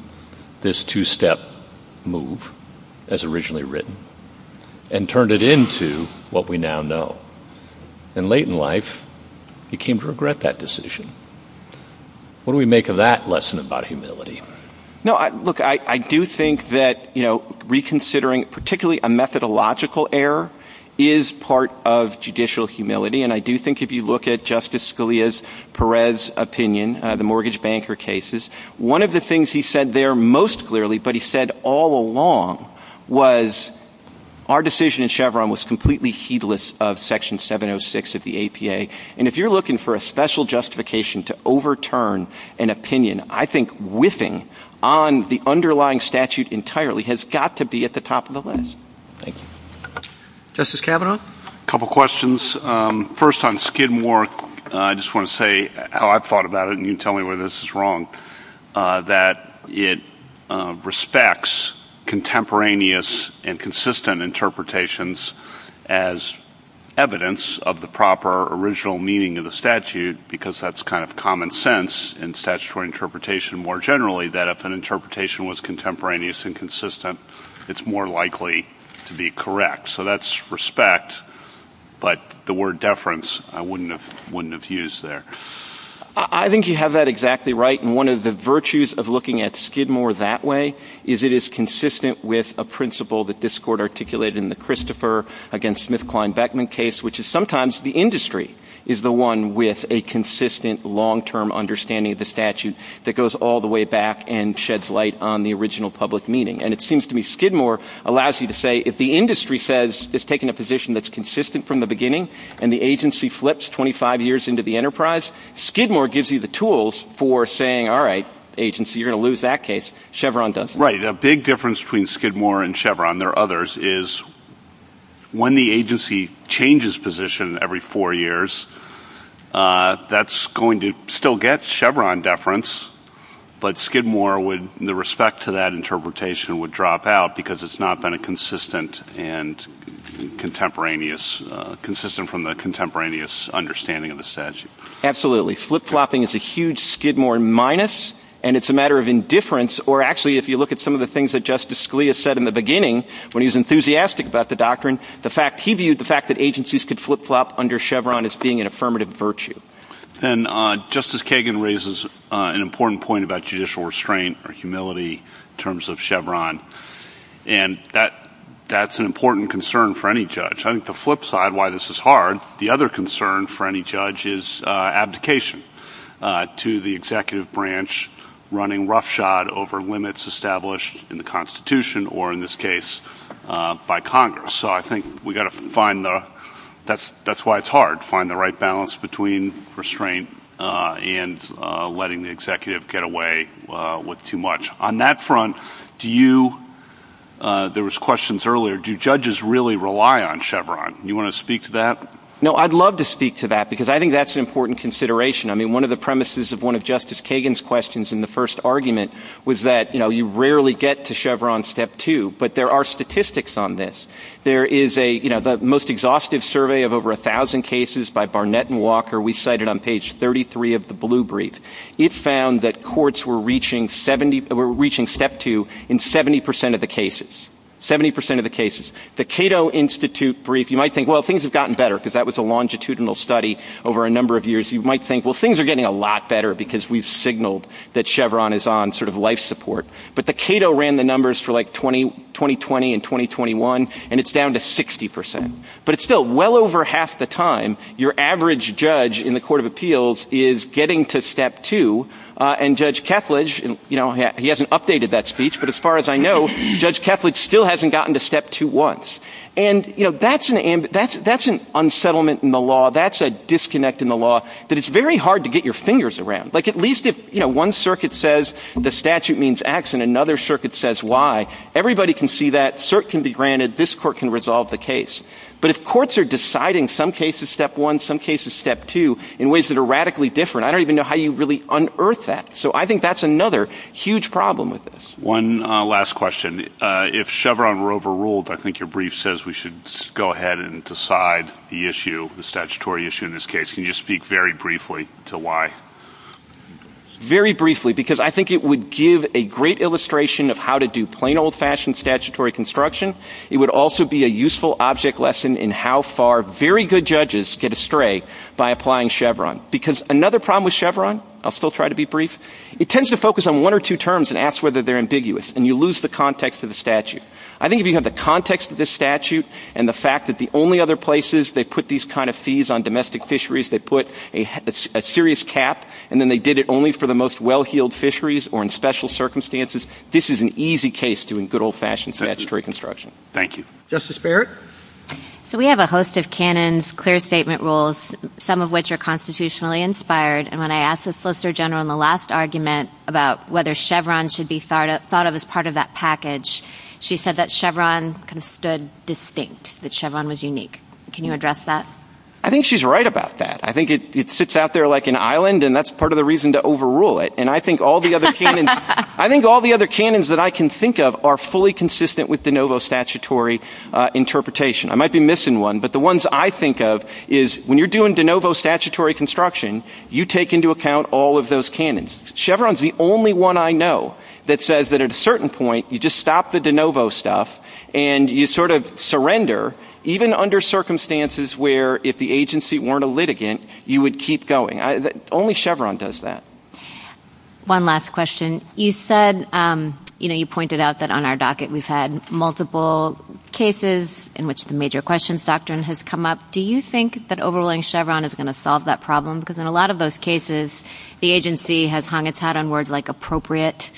this two-step move, as originally written, and turned it into what we now know. And late in life, he came to regret that decision. What do we make of that lesson about humility? Look, I do think that reconsidering, particularly a methodological error, is part of judicial humility. And I do think if you look at Justice Scalia's Perez opinion, the mortgage banker cases, one of the things he said there most clearly, but he said all along, was our decision in Chevron was completely heedless of Section 706 of the APA. And if you're looking for a special justification to overturn an opinion, I think whiffing on the underlying statute entirely has got to be at the top of the list. Thank you. Justice Kavanaugh? A couple questions. First, on Skidmore, I just want to say how I've thought about it, and you can tell me whether this is wrong, that it respects contemporaneous and consistent interpretations as evidence of the proper, original meaning of the statute, because that's kind of common sense in statutory interpretation more generally, that if an interpretation was contemporaneous and consistent, it's more likely to be correct. So that's respect, but the word deference I wouldn't have used there. I think you have that exactly right. And one of the virtues of looking at Skidmore that way is it is consistent with a principle that this Court articulated in the Christopher v. Smith-Klein-Beckman case, which is sometimes the industry is the one with a consistent, long-term understanding of the statute that goes all the way back and sheds light on the original public meaning. And it seems to me Skidmore allows you to say if the industry says it's taking a position that's consistent from the beginning and the agency flips 25 years into the enterprise, Skidmore gives you the tools for saying, all right, agency, you're going to lose that case, Chevron doesn't. Right. A big difference between Skidmore and Chevron, there are others, is when the agency changes position every four years, that's going to still get Chevron deference, but Skidmore, with respect to that interpretation, would drop out because it's not been consistent and consistent from the contemporaneous understanding of the statute. Absolutely. Flip-flopping is a huge Skidmore minus, and it's a matter of indifference, or actually if you look at some of the things that Justice Scalia said in the beginning, when he was enthusiastic about the doctrine, he viewed the fact that agencies could flip-flop under Chevron as being an affirmative virtue. And Justice Kagan raises an important point about judicial restraint or humility in terms of Chevron, and that's an important concern for any judge. I think the flip side why this is hard, the other concern for any judge is abdication to the executive branch running roughshod over limits established in the Constitution, or in this case, by Congress. So I think we've got to find, that's why it's hard, find the right balance between restraint and letting the executive get away with too much. On that front, there was questions earlier, do judges really rely on Chevron? Do you want to speak to that? No, I'd love to speak to that, because I think that's an important consideration. I mean, one of the premises of one of Justice Kagan's questions in the first argument was that you rarely get to Chevron Step 2, but there are statistics on this. There is the most exhaustive survey of over 1,000 cases by Barnett and Walker. We cite it on page 33 of the Blue Brief. It found that courts were reaching Step 2 in 70% of the cases, 70% of the cases. The Cato Institute Brief, you might think, well, things have gotten better, because that was a longitudinal study over a number of years. You might think, well, things are getting a lot better because we've signaled that Chevron is on sort of life support. But the Cato ran the numbers for like 2020 and 2021, and it's down to 60%. But still, well over half the time, your average judge in the Court of Appeals is getting to Step 2, and Judge Ketledge, you know, he hasn't updated that speech, but as far as I know, Judge Ketledge still hasn't gotten to Step 2 once. And, you know, that's an unsettlement in the law. That's a disconnect in the law that it's very hard to get your fingers around. Like at least if, you know, one circuit says the statute means X and another circuit says Y, everybody can see that, cert can be granted, this court can resolve the case. But if courts are deciding some cases Step 1, some cases Step 2 in ways that are radically different, I don't even know how you really unearth that. So I think that's another huge problem with this. One last question. If Chevron were overruled, I think your brief says we should go ahead and decide the issue, the statutory issue in this case. Can you speak very briefly to why? Very briefly, because I think it would give a great illustration of how to do plain old-fashioned statutory construction. It would also be a useful object lesson in how far very good judges get astray by applying Chevron. Because another problem with Chevron, I'll still try to be brief, it tends to focus on one or two terms and ask whether they're ambiguous, and you lose the context of the statute. I think if you have the context of the statute and the fact that the only other places they put these kind of fees on domestic fisheries, they put a serious cap, and then they did it only for the most well-heeled fisheries or in special circumstances, this is an easy case doing good old-fashioned statutory construction. Thank you. Justice Barrett? So we have a host of canons, clear statement rules, some of which are constitutionally inspired, and when I asked the Solicitor General in the last argument about whether Chevron should be thought of as part of that package, she said that Chevron stood distinct, that Chevron was unique. Can you address that? I think she's right about that. I think it sits out there like an island, and that's part of the reason to overrule it. I think all the other canons that I can think of are fully consistent with de novo statutory interpretation. I might be missing one, but the ones I think of is when you're doing de novo statutory construction, you take into account all of those canons. Chevron's the only one I know that says that at a certain point you just stop the de novo stuff and you sort of surrender even under circumstances where if the agency weren't a litigant you would keep going. Only Chevron does that. One last question. You said, you know, you pointed out that on our docket we've had multiple cases in which the major questions doctrine has come up. Do you think that overruling Chevron is going to solve that problem? Because in a lot of those cases the agency has hung its hat on words like appropriate,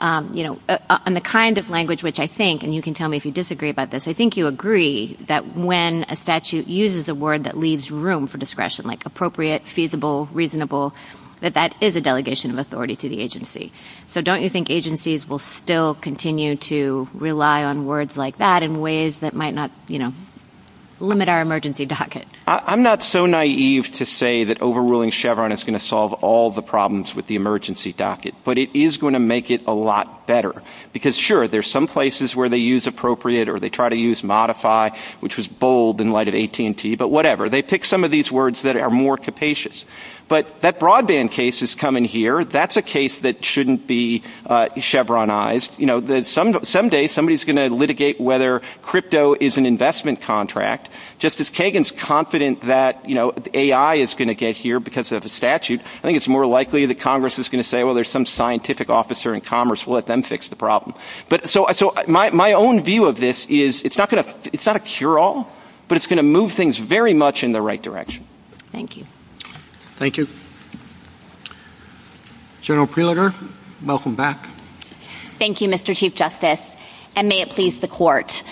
you know, and the kind of language which I think, and you can tell me if you disagree about this, I think you agree that when a statute uses a word that leaves room for discretion like appropriate, feasible, reasonable, that that is a delegation of authority to the agency. So don't you think agencies will still continue to rely on words like that in ways that might not, you know, limit our emergency docket? I'm not so naive to say that overruling Chevron is going to solve all the problems with the emergency docket. But it is going to make it a lot better. Because, sure, there's some places where they use appropriate or they try to use modify, which was bold in light of AT&T, but whatever. They pick some of these words that are more capacious. But that broadband case is coming here. That's a case that shouldn't be Chevronized. You know, someday somebody is going to litigate whether crypto is an investment contract. Just as Kagan is confident that, you know, AI is going to get here because of the statute, I think it's more likely that Congress is going to say, well, there's some scientific officer in commerce. We'll let them fix the problem. So my own view of this is it's not a cure-all, but it's going to move things very much in the right direction. Thank you. Thank you. General Preluder, welcome back. Thank you, Mr. Chief Justice, and may it please the court.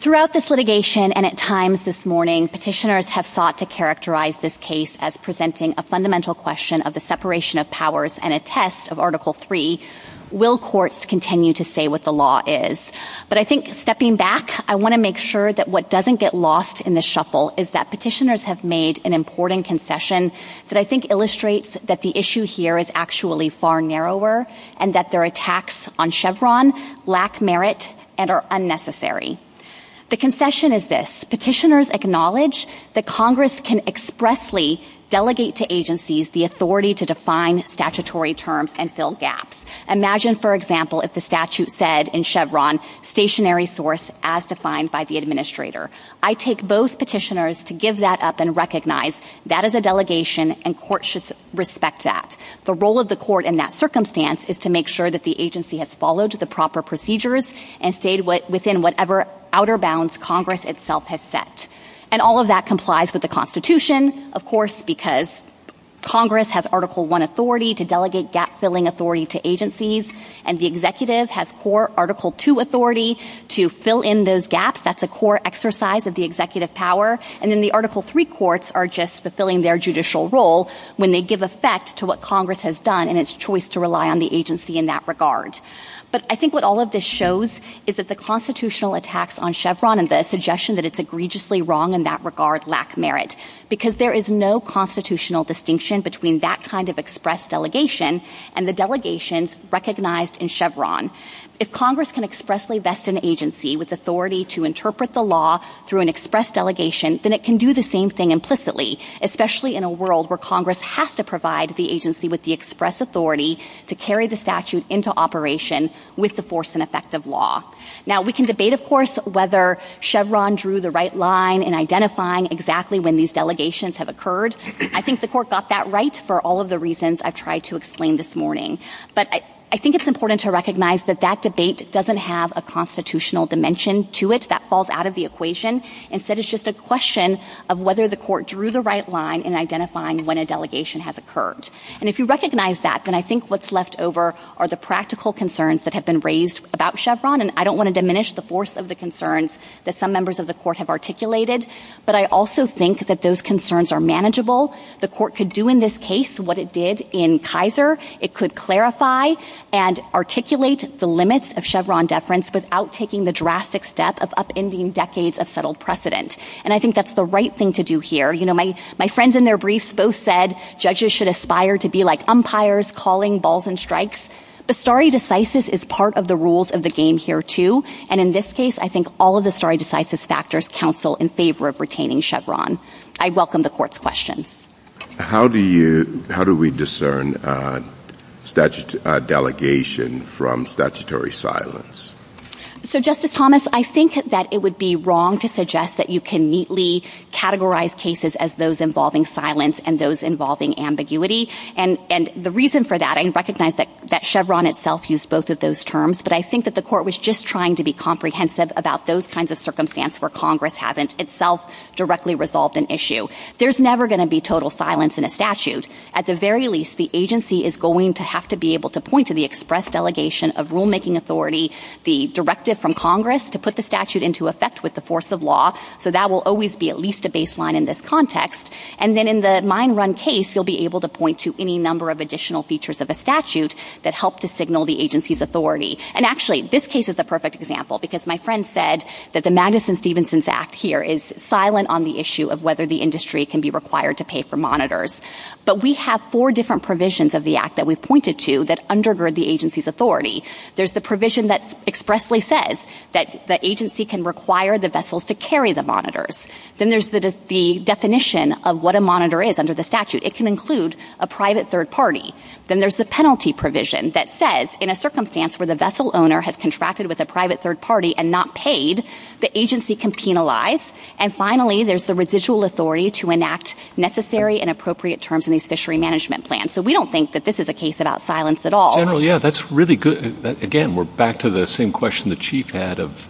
Throughout this litigation and at times this morning, petitioners have sought to characterize this case as presenting a fundamental question of the separation of powers and a test of Article III. Will courts continue to say what the law is? But I think stepping back, I want to make sure that what doesn't get lost in the shuffle is that petitioners have made an important concession that I think illustrates that the issue here is actually far narrower and that their attacks on Chevron lack merit and are unnecessary. The concession is this. Petitioners acknowledge that Congress can expressly delegate to agencies the authority to define statutory terms and fill gaps. Imagine, for example, if the statute said in Chevron, stationary source as defined by the administrator. I take those petitioners to give that up and recognize that is a delegation and courts should respect that. The role of the court in that circumstance is to make sure that the agency has followed the proper procedures and stayed within whatever outer bounds Congress itself has set. And all of that complies with the Constitution, of course, because Congress has Article I authority to delegate gap-filling authority to agencies and the executive has Article II authority to fill in those gaps. That's a core exercise of the executive power. And then the Article III courts are just fulfilling their judicial role when they give effect to what Congress has done and its choice to rely on the agency in that regard. But I think what all of this shows is that the constitutional attacks on Chevron and the suggestion that it's egregiously wrong in that regard lack merit because there is no constitutional distinction between that kind of express delegation and the delegations recognized in Chevron. If Congress can expressly vest an agency with authority to interpret the law through an express delegation, then it can do the same thing implicitly, especially in a world where Congress has to provide the agency with the express authority to carry the statute into operation with the force and effect of law. Now, we can debate, of course, whether Chevron drew the right line in identifying exactly when these delegations have occurred. I think the court got that right for all of the reasons I've tried to explain this morning. But I think it's important to recognize that that debate doesn't have a constitutional dimension to it. That falls out of the equation. Instead, it's just a question of whether the court drew the right line in identifying when a delegation has occurred. And if you recognize that, then I think what's left over are the practical concerns that have been raised about Chevron. And I don't want to diminish the force of the concerns that some members of the court have articulated. But I also think that those concerns are manageable. The court could do in this case what it did in Kaiser. It could clarify and articulate the limits of Chevron deference without taking the drastic step of upending decades of settled precedent. And I think that's the right thing to do here. You know, my friends in their briefs both said judges should aspire to be like umpires calling balls and strikes. The stare decisis is part of the rules of the game here, too. And in this case, I think all of the stare decisis factors counsel in favor of retaining Chevron. I welcome the court's question. How do we discern delegation from statutory silence? So, Justice Thomas, I think that it would be wrong to suggest that you can neatly categorize cases as those involving silence and those involving ambiguity. And the reason for that, I recognize that Chevron itself used both of those terms, but I think that the court was just trying to be comprehensive about those kinds of circumstances where Congress hasn't itself directly resolved an issue. There's never going to be total silence in a statute. At the very least, the agency is going to have to be able to point to the express delegation of rulemaking authority, the directive from Congress to put the statute into effect with the force of law. So that will always be at least a baseline in this context. And then in the mine run case, you'll be able to point to any number of additional features of the statute that help to signal the agency's authority. And actually, this case is a perfect example because my friend said that the Madison-Stevenson Act here is silent on the issue of whether the industry can be required to pay for monitors. But we have four different provisions of the act that we've pointed to that undergird the agency's authority. There's the provision that expressly says that the agency can require the vessels to carry the monitors. Then there's the definition of what a monitor is under the statute. It can include a private third party. Then there's the penalty provision that says in a circumstance where the vessel owner has contracted with a private third party and not paid, the agency can penalize. And finally, there's the residual authority to enact necessary and appropriate terms in these fishery management plans. So we don't think that this is a case about silence at all. General, yeah, that's really good. Again, we're back to the same question the chief had of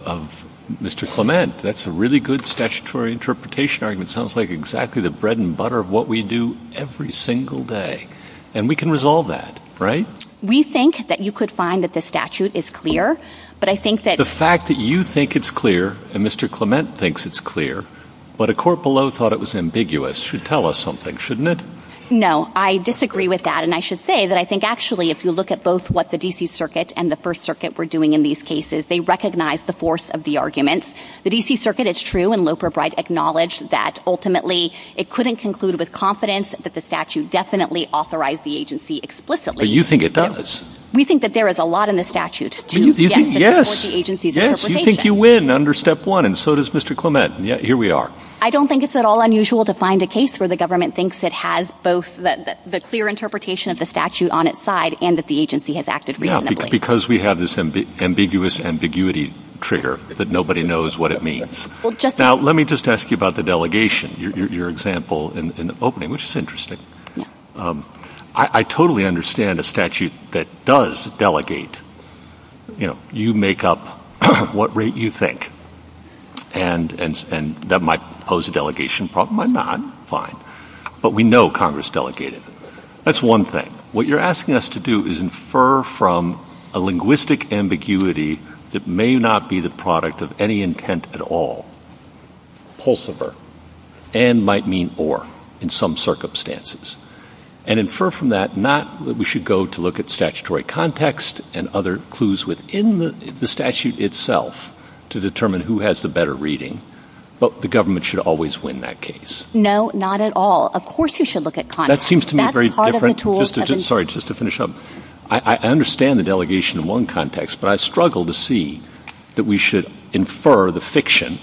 Mr. Clement. That's a really good statutory interpretation argument. It sounds like exactly the bread and butter of what we do every single day. And we can resolve that, right? We think that you could find that the statute is clear, but I think that... The fact that you think it's clear and Mr. Clement thinks it's clear, but a court below thought it was ambiguous, should tell us something, shouldn't it? No, I disagree with that. And I should say that I think actually if you look at both what the D.C. Circuit and the First Circuit were doing in these cases, they recognized the force of the argument. The D.C. Circuit, it's true, and Loper Bright acknowledged that ultimately it couldn't conclude with confidence that the statute definitely authorized the agency explicitly. But you think it does. We think that there is a lot in the statute. Yes, you think you win under step one, and so does Mr. Clement. Here we are. I don't think it's at all unusual to find a case where the government thinks it has both the clear interpretation of the statute on its side and that the agency has acted reasonably. Because we have this ambiguous ambiguity trigger, but nobody knows what it means. Now, let me just ask you about the delegation, your example in the opening, which is interesting. I totally understand a statute that does delegate. You make up what rate you think, and that might pose a delegation problem. It might not. Fine. But we know Congress delegated. That's one thing. What you're asking us to do is infer from a linguistic ambiguity that may not be the product of any intent at all, and might mean or in some circumstances, and infer from that not that we should go to look at statutory context and other clues within the statute itself to determine who has the better reading, but the government should always win that case. No, not at all. Of course you should look at context. That seems to me very different. Sorry, just to finish up. I understand the delegation in one context, but I struggle to see that we should infer the fiction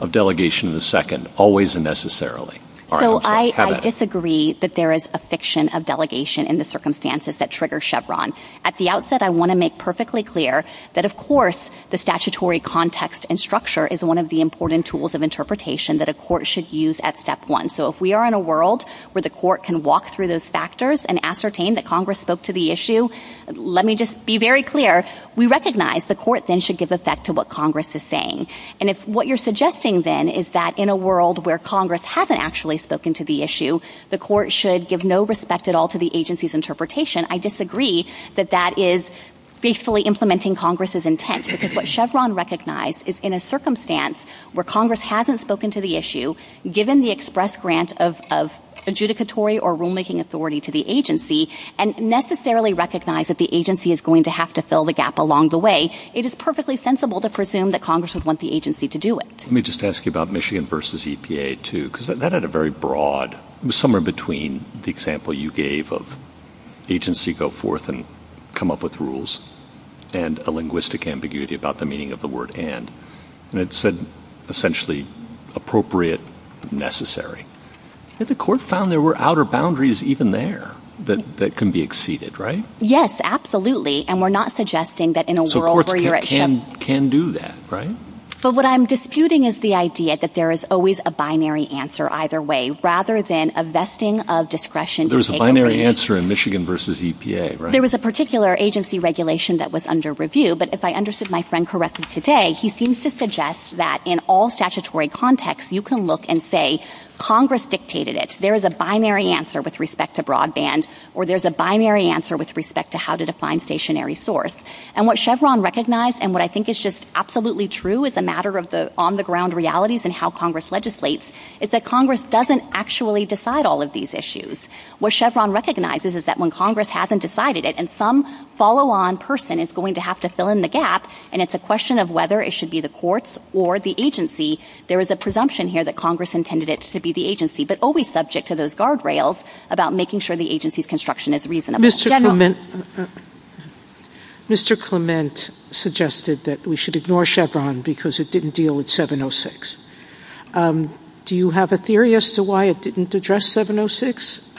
of delegation of the second always and necessarily. So I disagree that there is a fiction of delegation in the circumstances that trigger Chevron. At the outset, I want to make perfectly clear that, of course, the statutory context and structure is one of the important tools of interpretation that a court should use at step one. So if we are in a world where the court can walk through those factors and ascertain that Congress spoke to the issue, let me just be very clear, we recognize the court then should give effect to what Congress is saying. And if what you're suggesting then is that in a world where Congress hasn't actually spoken to the issue, the court should give no respect at all to the agency's interpretation, I disagree that that is basically implementing Congress's intent. Because what Chevron recognized is in a circumstance where Congress hasn't spoken to the issue, given the express grant of adjudicatory or rulemaking authority to the agency and necessarily recognize that the agency is going to have to fill the gap along the way, it is perfectly sensible to presume that Congress would want the agency to do it. Let me just ask you about Michigan v. EPA, too, because that had a very broad, somewhere between the example you gave of agency go forth and come up with rules and a linguistic ambiguity about the meaning of the word and. And it said, essentially, appropriate, necessary. And the court found there were outer boundaries even there that can be exceeded, right? Yes, absolutely. And we're not suggesting that in a world where you're at risk. So courts can do that, right? So what I'm disputing is the idea that there is always a binary answer either way, rather than a vesting of discretion. There's a binary answer in Michigan v. EPA, right? There was a particular agency regulation that was under review. But if I understood my friend correctly today, he seems to suggest that in all statutory contexts, you can look and say Congress dictated it. There is a binary answer with respect to broadband or there's a binary answer with respect to how to define stationary source. And what Chevron recognized and what I think is just absolutely true as a matter of the on-the-ground realities and how Congress legislates is that Congress doesn't actually decide all of these issues. What Chevron recognizes is that when Congress hasn't decided it and some follow-on person is going to have to fill in the gap and it's a question of whether it should be the courts or the agency, there is a presumption here that Congress intended it to be the agency but always subject to those guardrails about making sure the agency's construction is reasonable. Mr. Clement suggested that we should ignore Chevron because it didn't deal with 706. Do you have a theory as to why it didn't address 706?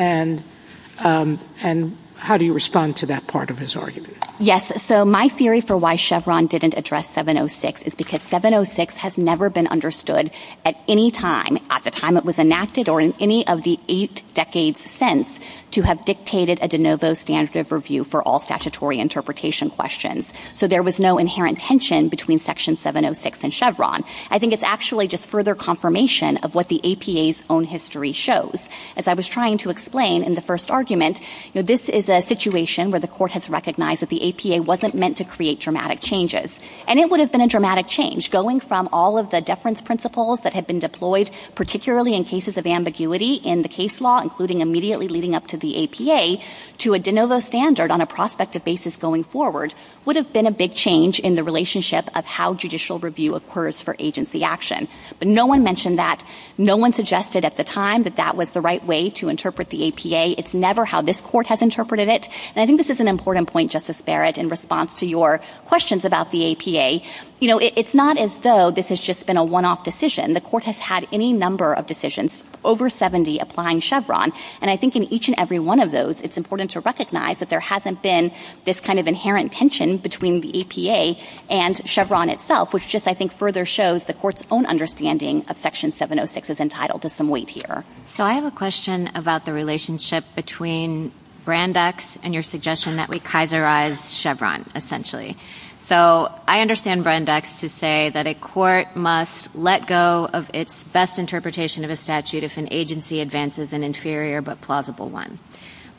And how do you respond to that part of his argument? Yes, so my theory for why Chevron didn't address 706 is because 706 has never been understood at any time at the time it was enacted or in any of the eight decades since to have dictated a de novo standard of review for all statutory interpretation questions. So there was no inherent tension between Section 706 and Chevron. I think it's actually just further confirmation of what the APA's own history shows. As I was trying to explain in the first argument, this is a situation where the court has recognized that the APA wasn't meant to create dramatic changes. And it would have been a dramatic change going from all of the deference principles that had been deployed, particularly in cases of ambiguity in the case law, including immediately leading up to the APA, to a de novo standard on a prospective basis going forward would have been a big change in the relationship of how judicial review occurs for agency action. But no one mentioned that. No one suggested at the time that that was the right way to interpret the APA. It's never how this court has interpreted it. And I think this is an important point, Justice Barrett, in response to your questions about the APA. You know, it's not as though this has just been a one-off decision. The court has had any number of decisions over 70 applying Chevron. And I think in each and every one of those, it's important to recognize that there hasn't been this kind of inherent tension between the APA and Chevron itself, which just I think further shows the court's own understanding of Section 706 is entitled to some weight here. So I have a question about the relationship between Brandeis and your suggestion that we Kaiserize Chevron, essentially. So I understand Brandeis to say that a court must let go of its best interpretation of a statute if an agency advances an inferior but plausible one.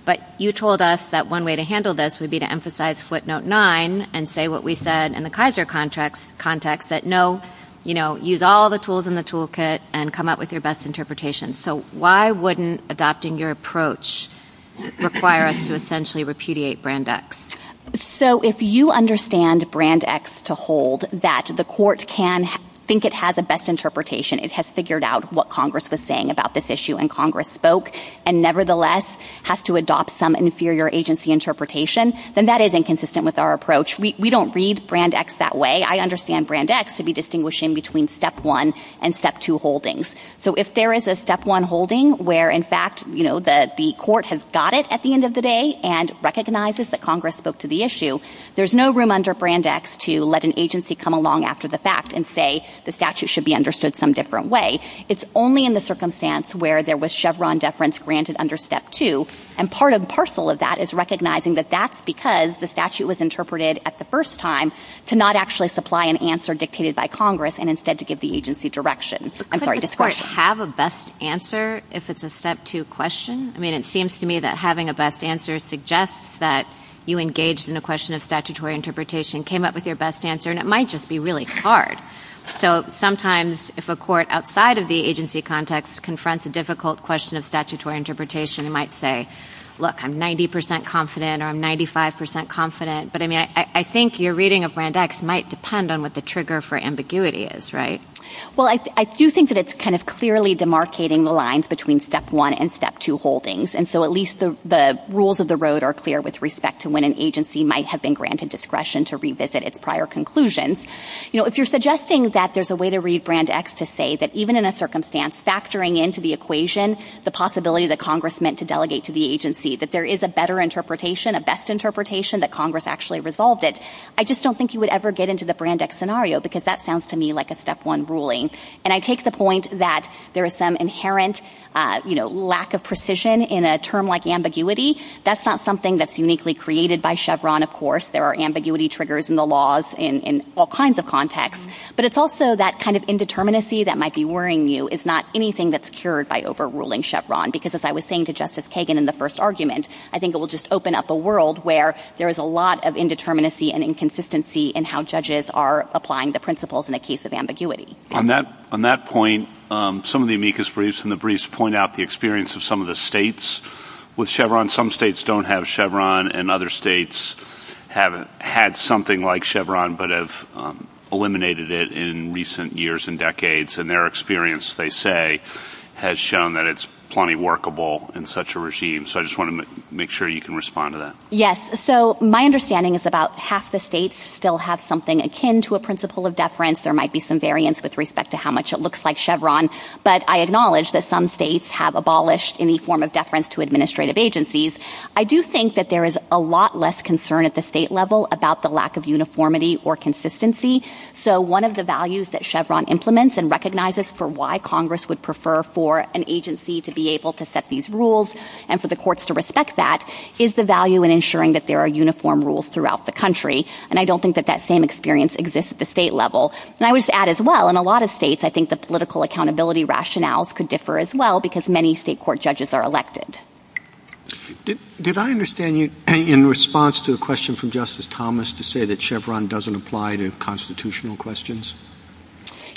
But you told us that one way to handle this would be to emphasize footnote 9 and say what we said in the Kaiser context, that no, you know, use all the tools in the toolkit and come up with your best interpretation. So why wouldn't adopting your approach require us to essentially repudiate Brandeis? So if you understand Brandeis to hold that the court can think it has a best interpretation, it has figured out what Congress was saying about this issue and Congress spoke, and nevertheless has to adopt some inferior agency interpretation, then that is inconsistent with our approach. We don't read Brandeis that way. I understand Brandeis to be distinguishing between Step 1 and Step 2 holdings. So if there is a Step 1 holding where, in fact, you know, the court has got it at the end of the day and recognizes that Congress spoke to the issue, there's no room under Brandeis to let an agency come along after the fact and say the statute should be understood some different way. It's only in the circumstance where there was Chevron deference granted under Step 2, and part and parcel of that is recognizing that that's because the statute was interpreted at the first time to not actually supply an answer dictated by Congress and instead to give the agency direction. Does the court have a best answer if it's a Step 2 question? I mean, it seems to me that having a best answer suggests that you engaged in the question of statutory interpretation, came up with your best answer, and it might just be really hard. So sometimes if a court outside of the agency context confronts a difficult question of statutory interpretation, it might say, look, I'm 90% confident or I'm 95% confident, but I think your reading of Brandeis might depend on what the trigger for ambiguity is, right? Well, I do think that it's kind of clearly demarcating the lines between Step 1 and Step 2 holdings, and so at least the rules of the road are clear with respect to when an agency might have been granted discretion to revisit its prior conclusions. If you're suggesting that there's a way to read Brandeis to say that even in a circumstance factoring into the equation the possibility that Congress meant to delegate to the agency, that there is a better interpretation, a best interpretation that Congress actually resolved it, I just don't think you would ever get into the Brandeis scenario because that sounds to me like a Step 1 ruling. And I take the point that there is some inherent, you know, lack of precision in a term like ambiguity. That's not something that's uniquely created by Chevron, of course. There are ambiguity triggers in the laws in all kinds of contexts. But it's also that kind of indeterminacy that might be worrying you is not anything that's cured by overruling Chevron because as I was saying to Justice Kagan in the first argument, I think it will just open up a world where there is a lot of indeterminacy and inconsistency in how judges are applying the principles in the case of ambiguity. On that point, some of the amicus briefs and the briefs point out the experience of some of the states with Chevron. Some states don't have Chevron, and other states have had something like Chevron but have eliminated it in recent years and decades, and their experience, they say, has shown that it's plenty workable in such a regime. So I just want to make sure you can respond to that. Yes. So my understanding is about half the states still have something akin to a principle of deference. There might be some variance with respect to how much it looks like Chevron. But I acknowledge that some states have abolished any form of deference to administrative agencies. I do think that there is a lot less concern at the state level about the lack of uniformity or consistency. So one of the values that Chevron implements and recognizes for why Congress would prefer for an agency to be able to set these rules and for the courts to respect that is the value in ensuring that there are uniform rules throughout the country. And I don't think that that same experience exists at the state level. And I would add as well, in a lot of states, I think the political accountability rationales could differ as well because many state court judges are elected. Did I understand you in response to a question from Justice Thomas to say that Chevron doesn't apply to constitutional questions?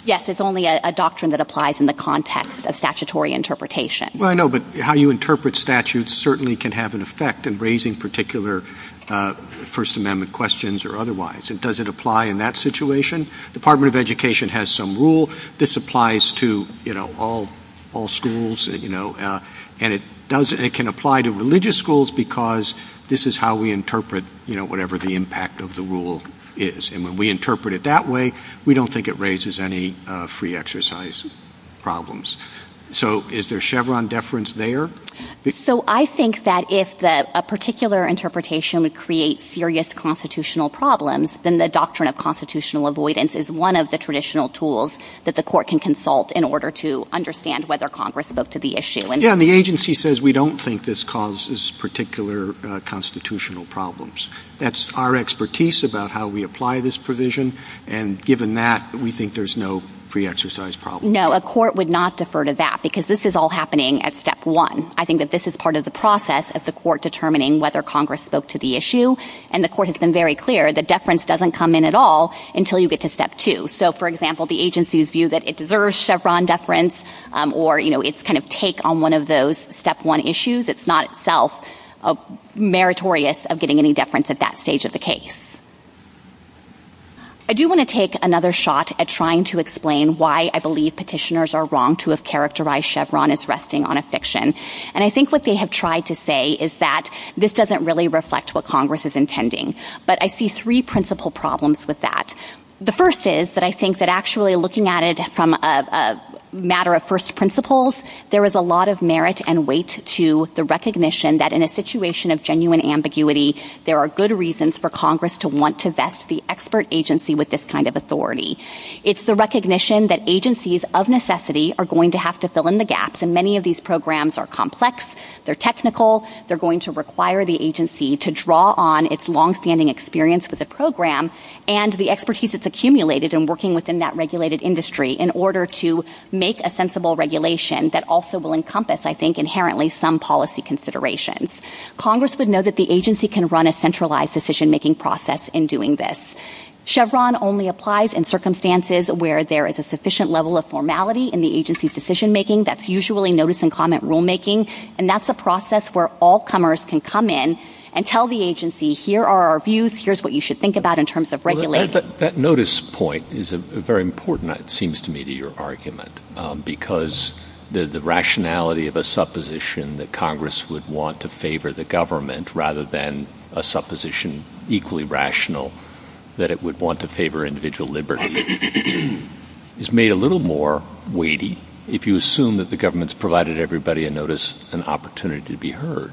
Yes, it's only a doctrine that applies in the context of statutory interpretation. Well, I know, but how you interpret statutes certainly can have an effect in raising particular First Amendment questions or otherwise. Does it apply in that situation? The Department of Education has some rule. This applies to all schools. And it can apply to religious schools because this is how we interpret whatever the impact of the rule is. And when we interpret it that way, we don't think it raises any free exercise problems. So is there Chevron deference there? So I think that if a particular interpretation would create serious constitutional problems, then the doctrine of constitutional avoidance is one of the traditional tools that the court can consult in order to understand whether Congress looked to the issue. Yeah, and the agency says we don't think this causes particular constitutional problems. That's our expertise about how we apply this provision. And given that, we think there's no free exercise problem. No, a court would not defer to that because this is all happening at step one. I think that this is part of the process of the court determining whether Congress spoke to the issue. And the court has been very clear that deference doesn't come in at all until you get to step two. So, for example, the agency's view that it deserves Chevron deference or its kind of take on one of those step one issues, it's not itself meritorious of getting any deference at that stage of the case. I do want to take another shot at trying to explain why I believe petitioners are wrong to have characterized Chevron as resting on a fiction. And I think what they have tried to say is that this doesn't really reflect what Congress is intending. But I see three principal problems with that. The first is that I think that actually looking at it from a matter of first principles, there is a lot of merit and weight to the recognition that in a situation of genuine ambiguity, there are good reasons for Congress to want to vest the expert agency with this kind of authority. It's the recognition that agencies of necessity are going to have to fill in the gaps. And many of these programs are complex. They're technical. They're going to require the agency to draw on its longstanding experience with the program and the expertise that's accumulated in working within that regulated industry in order to make a sensible regulation that also will encompass, I think, inherently some policy considerations. Congress would know that the agency can run a centralized decision-making process in doing this. Chevron only applies in circumstances where there is a sufficient level of formality in the agency's decision-making. That's usually notice and comment rulemaking. And that's a process where all comers can come in and tell the agency, here are our views. Here's what you should think about in terms of regulating. That notice point is very important, it seems to me, to your argument, because the rationality of a supposition that Congress would want to favor the government rather than a supposition equally rational that it would want to favor individual liberty is made a little more weighty if you assume that the government's provided everybody a notice, an opportunity to be heard.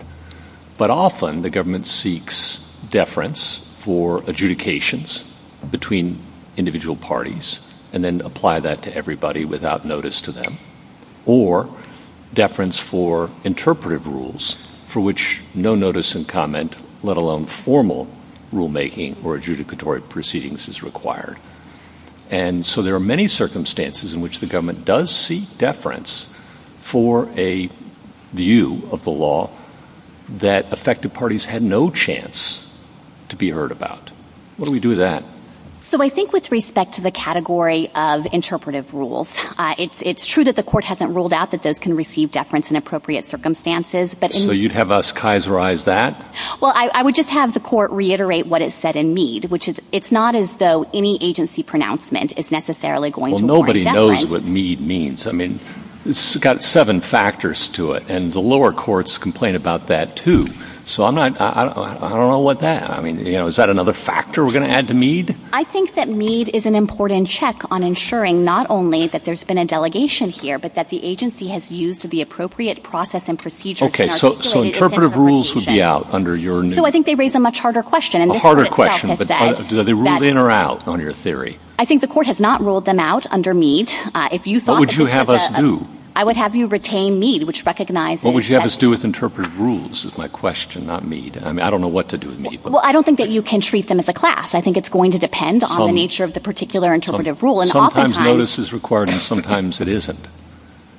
But often the government seeks deference for adjudications between individual parties and then apply that to everybody without notice to them, or deference for interpretive rules for which no notice and comment, let alone formal rulemaking or adjudicatory proceedings is required. And so there are many circumstances in which the government does seek deference for a view of the law that affected parties had no chance to be heard about. Why don't we do that? So I think with respect to the category of interpretive rules, it's true that the court hasn't ruled out that those can receive deference in appropriate circumstances. So you'd have us kaiserize that? Well, I would just have the court reiterate what it said in Mead, which is it's not as though any agency pronouncement is necessarily going to warrant deference. Everybody knows what Mead means. I mean, it's got seven factors to it, and the lower courts complain about that too. So I don't know about that. I mean, is that another factor we're going to add to Mead? I think that Mead is an important check on ensuring not only that there's been a delegation here, but that the agency has used the appropriate process and procedures. Okay, so interpretive rules would be out under your new... So I think they raise a much harder question. A harder question. Do they rule in or out on your theory? I think the court has not ruled them out under Mead. What would you have us do? I would have you retain Mead, which recognizes... What would you have us do with interpretive rules is my question, not Mead. I mean, I don't know what to do with Mead. Well, I don't think that you can treat them as a class. I think it's going to depend on the nature of the particular interpretive rule. Sometimes notice is required and sometimes it isn't.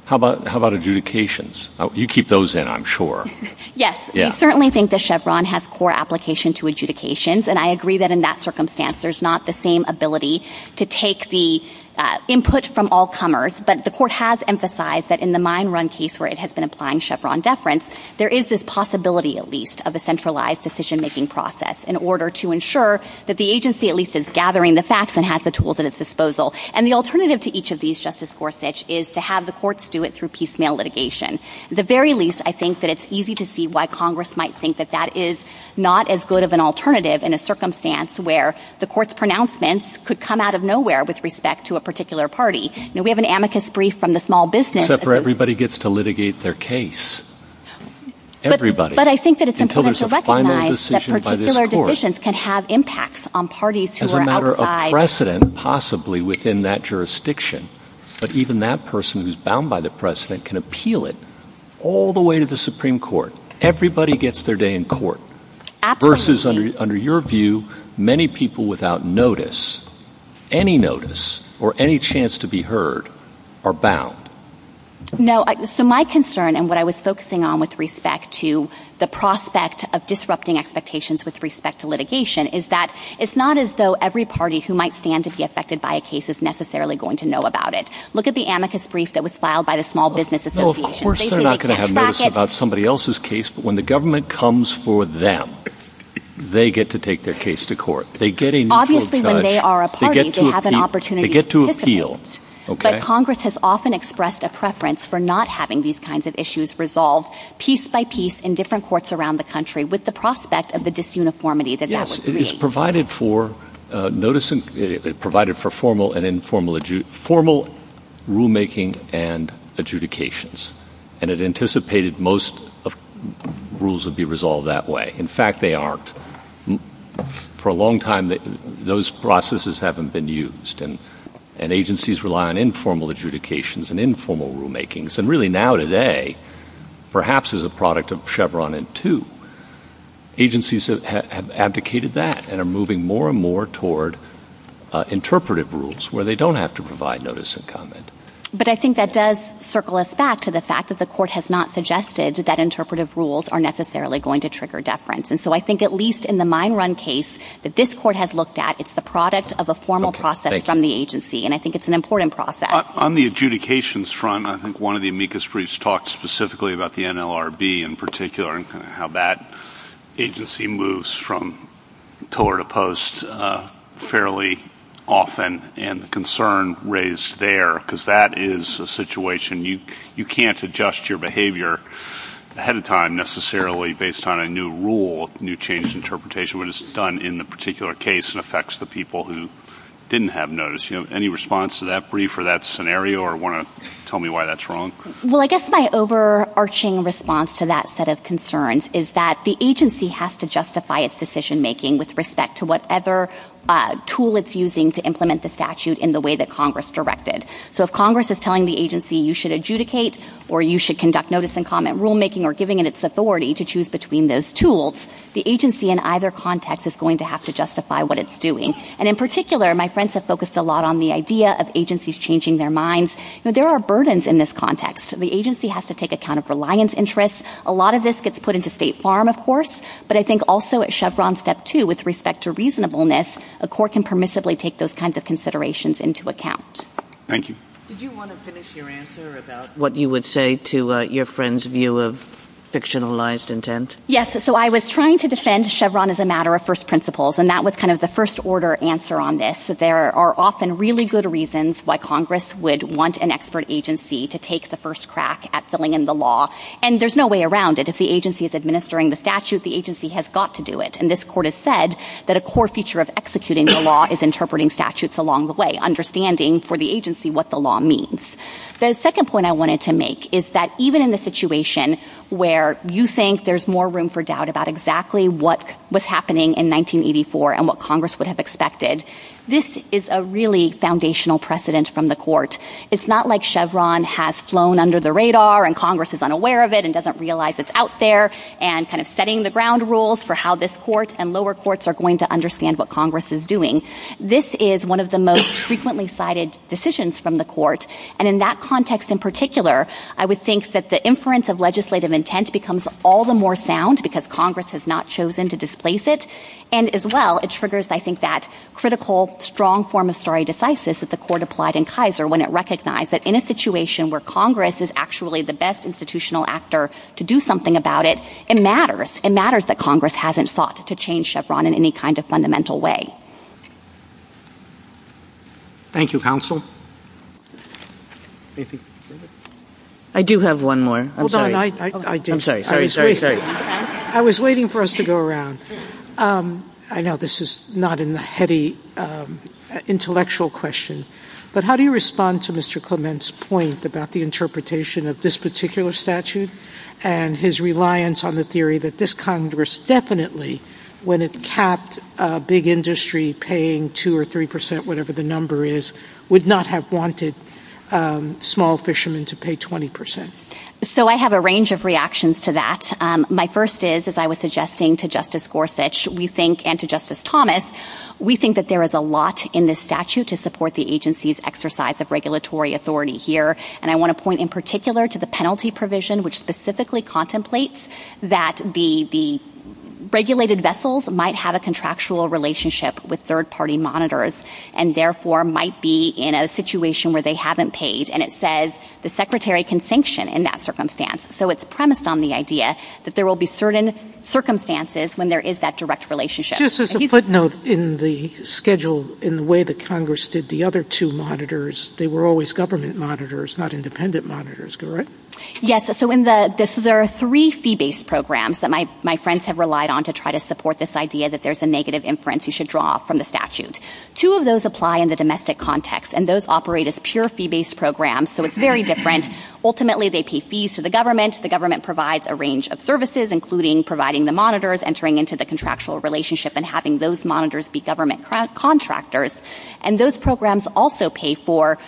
How about adjudications? You keep those in, I'm sure. Yes, I certainly think that Chevron has core application to adjudications, and I agree that in that circumstance, there's not the same ability to take the input from all comers. But the court has emphasized that in the mine run case where it has been applying Chevron deference, there is this possibility at least of a centralized decision-making process in order to ensure that the agency at least is gathering the facts and has the tools at its disposal. And the alternative to each of these, Justice Gorsuch, is to have the courts do it through piecemeal litigation. At the very least, I think that it's easy to see why Congress might think that is not as good of an alternative in a circumstance where the court's pronouncements could come out of nowhere with respect to a particular party. We have an amicus brief from the small business. Except for everybody gets to litigate their case. Everybody. But I think that it's important to recognize that particular decisions can have impacts on parties who are outside. As a matter of precedent, possibly within that jurisdiction. But even that person who's bound by the precedent can appeal it all the way to the Supreme Court. Everybody gets their day in court. Absolutely. Versus under your view, many people without notice, any notice or any chance to be heard, are bound. No, so my concern and what I was focusing on with respect to the prospect of disrupting expectations with respect to litigation is that it's not as though every party who might stand to be affected by a case is necessarily going to know about it. Look at the amicus brief that was filed by the small business association. Of course they're not going to have notice about somebody else's case. But when the government comes for them, they get to take their case to court. Obviously when they are a party, they have an opportunity to participate. They get to appeal. But Congress has often expressed a preference for not having these kinds of issues resolved piece by piece in different courts around the country with the prospect of the disuniformity that that would create. Yes, it is provided for formal and informal rulemaking and adjudications. And it anticipated most rules would be resolved that way. In fact, they aren't. For a long time, those processes haven't been used. And agencies rely on informal adjudications and informal rulemakings. And really now today, perhaps as a product of Chevron and two, agencies have abdicated that and are moving more and more toward interpretive rules where they don't have to provide notice and comment. But I think that does circle us back to the fact that the court has not suggested that interpretive rules are necessarily going to trigger deference. And so I think at least in the mine run case that this court has looked at, it's the product of a formal process from the agency. And I think it's an important process. On the adjudications front, I think one of the amicus briefs talked specifically about the NLRB in particular and how that agency moves from tolerant to post fairly often and concern raised there, because that is a situation. You can't adjust your behavior ahead of time necessarily based on a new rule, new change interpretation, which is done in the particular case and affects the people who didn't have notice. Any response to that brief or that scenario? Or want to tell me why that's wrong? Well, I guess my overarching response to that set of concerns is that the agency has to justify its decision-making with respect to whatever tool it's using to implement the statute in the way that Congress directed. So if Congress is telling the agency you should adjudicate or you should conduct notice and comment rulemaking or giving it its authority to choose between those tools, the agency in either context is going to have to justify what it's doing. And in particular, my friends have focused a lot on the idea of agencies changing their minds. There are burdens in this context. The agency has to take account of reliance interests. A lot of this gets put into State Farm, of course, but I think also at Chevron Step 2, with respect to reasonableness, a court can permissibly take those kinds of considerations into account. Thank you. Did you want to finish your answer about what you would say to your friend's view of fictionalized intent? Yes, so I was trying to defend Chevron as a matter of first principles, and that was kind of the first-order answer on this. There are often really good reasons why Congress would want an expert agency to take the first crack at filling in the law, and there's no way around it. As the agency is administering the statute, the agency has got to do it, and this court has said that a core feature of executing the law is interpreting statutes along the way, understanding for the agency what the law means. The second point I wanted to make is that even in the situation where you think there's more room for doubt about exactly what was happening in 1984 and what Congress would have expected, this is a really foundational precedent from the court. It's not like Chevron has flown under the radar and Congress is unaware of it and doesn't realize it's out there and kind of setting the ground rules for how this court and lower courts are going to understand what Congress is doing. This is one of the most frequently cited decisions from the court, and in that context in particular, I would think that the inference of legislative intent becomes all the more sound because Congress has not chosen to displace it, and as well it triggers, I think, that critical, strong form of stare decisis that the court applied in Kaiser when it recognized that in a situation where Congress is actually the best institutional actor to do something about it, it matters. It matters that Congress hasn't sought to change Chevron in any kind of fundamental way. Thank you, counsel. I do have one more. I'm sorry. I was waiting for us to go around. I know this is not a heady intellectual question, but how do you respond to Mr. Clement's point about the interpretation of this particular statute and his reliance on the theory that this Congress definitely, when it capped a big industry paying 2% or 3%, whatever the number is, would not have wanted small fishermen to pay 20%? So I have a range of reactions to that. My first is, as I was suggesting to Justice Gorsuch and to Justice Thomas, we think that there is a lot in this statute to support the agency's exercise of regulatory authority here, and I want to point in particular to the penalty provision, which specifically contemplates that the regulated vessels might have a contractual relationship with third-party monitors and therefore might be in a situation where they haven't paid, and it says the secretary can sanction in that circumstance. So it's premised on the idea that there will be certain circumstances when there is that direct relationship. Just as a footnote in the schedule, in the way that Congress did the other two monitors, they were always government monitors, not independent monitors, correct? Yes, so there are three fee-based programs that my friends have relied on to try to support this idea that there's a negative inference you should draw from the statute. Two of those apply in the domestic context, and those operate as pure fee-based programs, so it's very different. Ultimately, they pay fees to the government. The government provides a range of services, including providing the monitors, entering into the contractual relationship, and having those monitors be government contractors, and those programs also pay for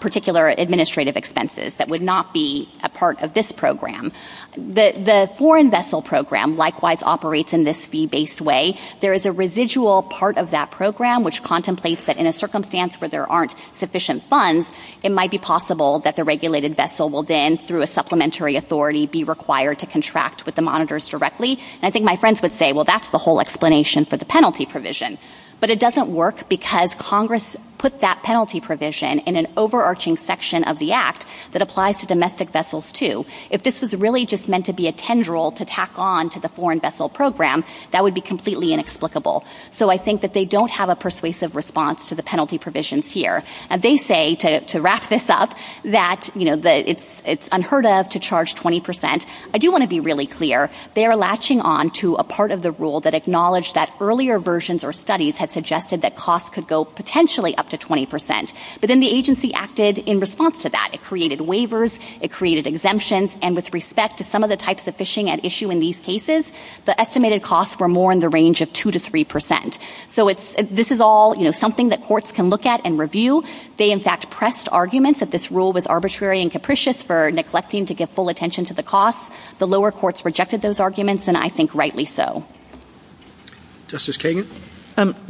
particular administrative expenses that would not be a part of this program. The foreign vessel program likewise operates in this fee-based way. There is a residual part of that program, which contemplates that in a circumstance where there aren't sufficient funds, it might be possible that the regulated vessel will then, through a supplementary authority, be required to contract with the monitors directly, and I think my friends would say, well, that's the whole explanation for the penalty provision, but it doesn't work because Congress put that penalty provision in an overarching section of the Act that applies to domestic vessels, too. If this was really just meant to be a tendril to tack on to the foreign vessel program, that would be completely inexplicable, so I think that they don't have a persuasive response to the penalty provisions here, and they say, to wrap this up, that it's unheard of to charge 20%. I do want to be really clear. They are latching on to a part of the rule that acknowledged that earlier versions or studies had suggested that costs could go potentially up to 20%, but then the agency acted in response to that. It created waivers, it created exemptions, and with respect to some of the types of fishing at issue in these cases, the estimated costs were more in the range of 2% to 3%. So this is all something that courts can look at and review. They, in fact, pressed arguments that this rule was arbitrary and capricious for neglecting to give full attention to the costs. The lower courts rejected those arguments, and I think rightly so. Justice Kagan?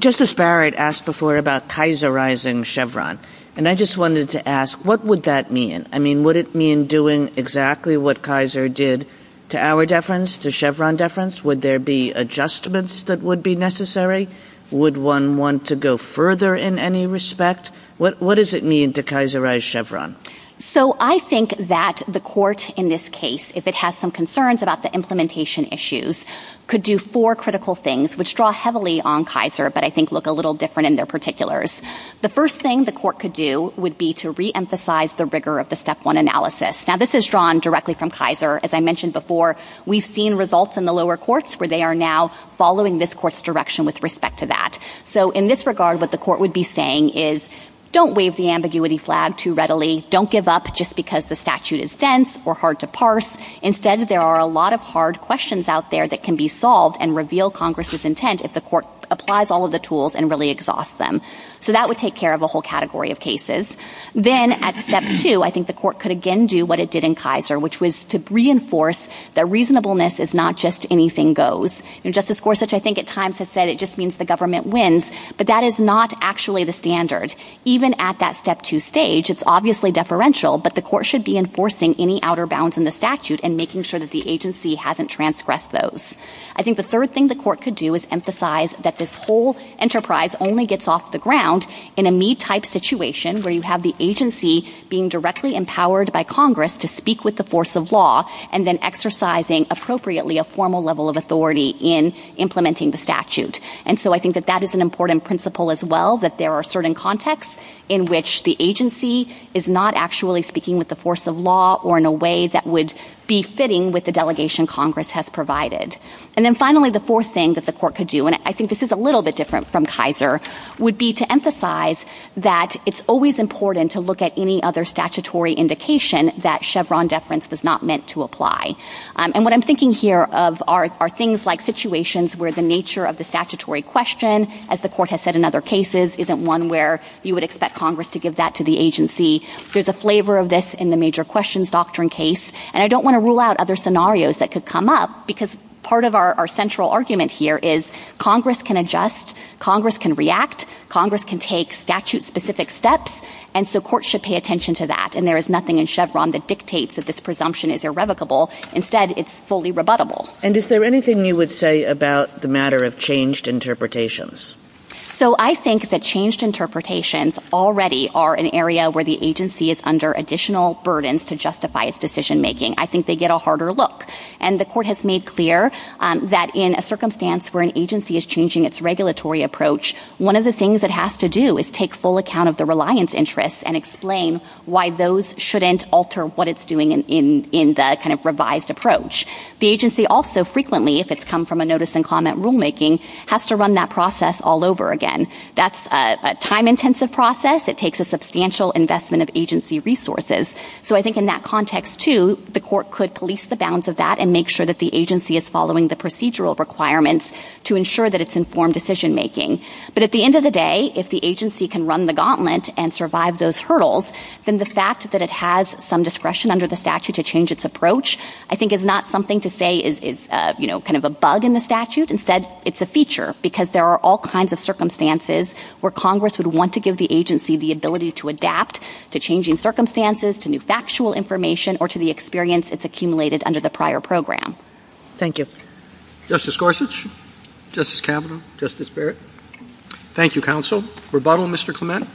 Justice Barrett asked before about kaiserizing Chevron, and I just wanted to ask, what would that mean? I mean, would it mean doing exactly what Kaiser did to our deference, to Chevron deference? Would there be adjustments that would be necessary? Would one want to go further in any respect? What does it mean to kaiserize Chevron? So I think that the court in this case, if it has some concerns about the implementation issues, could do four critical things, which draw heavily on Kaiser but I think look a little different in their particulars. The first thing the court could do would be to reemphasize the rigor of the Step 1 analysis. Now, this is drawn directly from Kaiser. As I mentioned before, we've seen results in the lower courts where they are now following this court's direction with respect to that. So in this regard, what the court would be saying is, don't wave the ambiguity flag too readily. Don't give up just because the statute is dense or hard to parse. Instead, there are a lot of hard questions out there that can be solved and reveal Congress's intent if the court applies all of the tools and really exhausts them. So that would take care of a whole category of cases. Then at Step 2, I think the court could again do what it did in Kaiser, which was to reinforce that reasonableness is not just anything goes. Justice Gorsuch I think at times has said it just means the government wins, but that is not actually the standard. Even at that Step 2 stage, it's obviously deferential, but the court should be enforcing any outer bounds in the statute and making sure that the agency hasn't transgressed those. I think the third thing the court could do is emphasize that this whole enterprise only gets off the ground in a me-type situation where you have the agency being directly empowered by Congress to speak with the force of law and then exercising appropriately a formal level of authority in implementing the statute. And so I think that that is an important principle as well, that there are certain contexts in which the agency is not actually speaking with the force of law or in a way that would be fitting with the delegation Congress has provided. And then finally, the fourth thing that the court could do, and I think this is a little bit different from Kaiser, would be to emphasize that it's always important to look at any other statutory indication that Chevron deference was not meant to apply. And what I'm thinking here are things like situations where the nature of the statutory question, as the court has said in other cases, isn't one where you would expect Congress to give that to the agency. There's a flavor of this in the major questions doctrine case. And I don't want to rule out other scenarios that could come up because part of our central argument here is Congress can adjust, Congress can react, Congress can take statute-specific steps, and so courts should pay attention to that. And there is nothing in Chevron that dictates that this presumption is irrevocable. Instead, it's fully rebuttable. And is there anything you would say about the matter of changed interpretations? So I think that changed interpretations already are an area where the agency is under additional burdens to justify its decision-making. I think they get a harder look. And the court has made clear that in a circumstance where an agency is changing its regulatory approach, one of the things it has to do is take full account of the reliance interests and explain why those shouldn't alter what it's doing in the kind of revised approach. The agency also frequently, if it's come from a notice and comment rulemaking, has to run that process all over again. That's a time-intensive process. It takes a substantial investment of agency resources. So I think in that context, too, the court could police the bounds of that and make sure that the agency is following the procedural requirements to ensure that it's informed decision-making. But at the end of the day, if the agency can run the gauntlet and survive those hurdles, then the fact that it has some discretion under the statute to change its approach I think is not something to say is, you know, kind of a bug in the statute. Instead, it's a feature because there are all kinds of circumstances where Congress would want to give the agency the ability to adapt to changing circumstances, to new factual information, or to the experience it's accumulated under the prior program. Thank you. Justice Gorsuch? Justice Kavanaugh? Justice Barrett? Thank you, counsel. Rebuttal, Mr. Clement?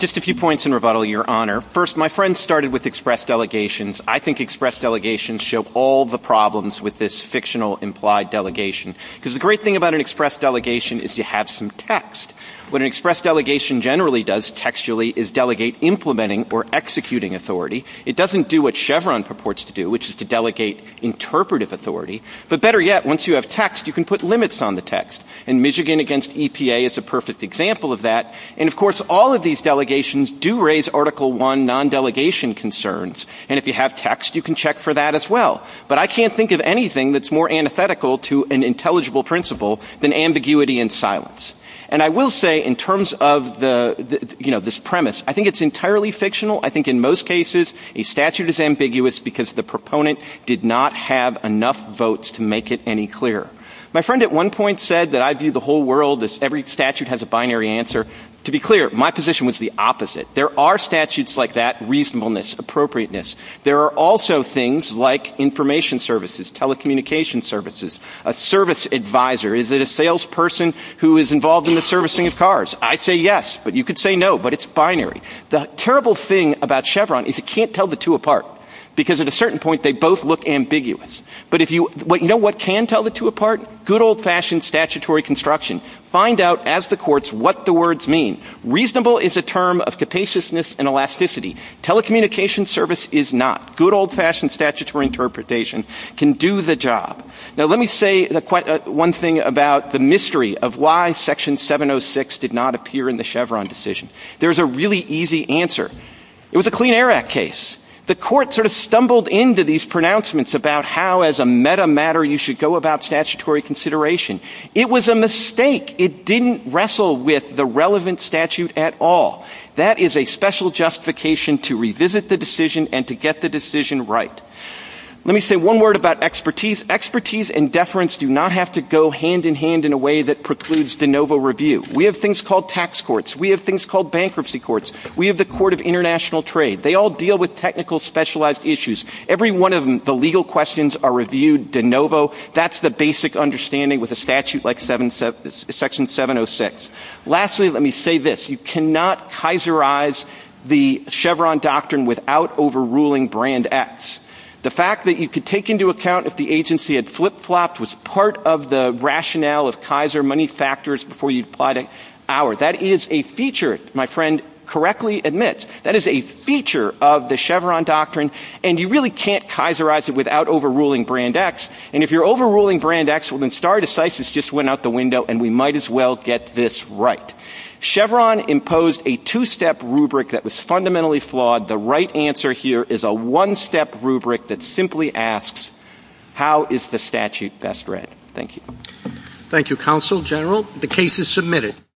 Just a few points in rebuttal, Your Honor. First, my friends started with express delegations. I think express delegations show all the problems with this fictional implied delegation because the great thing about an express delegation is you have some text. What an express delegation generally does textually is delegate implementing or executing authority. It doesn't do what Chevron purports to do, which is to delegate interpretive authority. But better yet, once you have text, you can put limits on the text. And Michigan against EPA is a perfect example of that. And, of course, all of these delegations do raise Article I non-delegation concerns. And if you have text, you can check for that as well. But I can't think of anything that's more antithetical to an intelligible principle than ambiguity and silence. And I will say, in terms of this premise, I think it's entirely fictional. I think in most cases, a statute is ambiguous because the proponent did not have enough votes to make it any clearer. My friend at one point said that I view the whole world as every statute has a binary answer. To be clear, my position was the opposite. There are statutes like that, reasonableness, appropriateness. There are also things like information services, telecommunication services, a service advisor. Is it a salesperson who is involved in the servicing of cars? I say yes, but you could say no, but it's binary. The terrible thing about Chevron is you can't tell the two apart because at a certain point, they both look ambiguous. But you know what can tell the two apart? Good old-fashioned statutory construction. Find out, as the courts, what the words mean. Reasonable is a term of capaciousness and elasticity. Telecommunication service is not. Good old-fashioned statutory interpretation can do the job. Now, let me say one thing about the mystery of why Section 706 did not appear in the Chevron decision. There's a really easy answer. It was a Clean Air Act case. The court sort of stumbled into these pronouncements about how, as a meta matter, you should go about statutory consideration. It was a mistake. It didn't wrestle with the relevant statute at all. That is a special justification to revisit the decision and to get the decision right. Let me say one word about expertise. Expertise and deference do not have to go hand-in-hand in a way that precludes de novo review. We have things called tax courts. We have things called bankruptcy courts. We have the Court of International Trade. They all deal with technical specialized issues. Every one of the legal questions are reviewed de novo. That's the basic understanding with a statute like Section 706. Lastly, let me say this. You cannot kaiserize the Chevron doctrine without overruling Brand X. The fact that you could take into account if the agency had flip-flopped was part of the rationale of Kaiser money factors before you applied it. That is a feature, my friend correctly admits. That is a feature of the Chevron doctrine, and you really can't kaiserize it without overruling Brand X. And if you're overruling Brand X, well, then stare decisis just went out the window, and we might as well get this right. Chevron imposed a two-step rubric that was fundamentally flawed. The right answer here is a one-step rubric that simply asks, how is the statute best read? Thank you. Thank you, Counsel General. The case is submitted.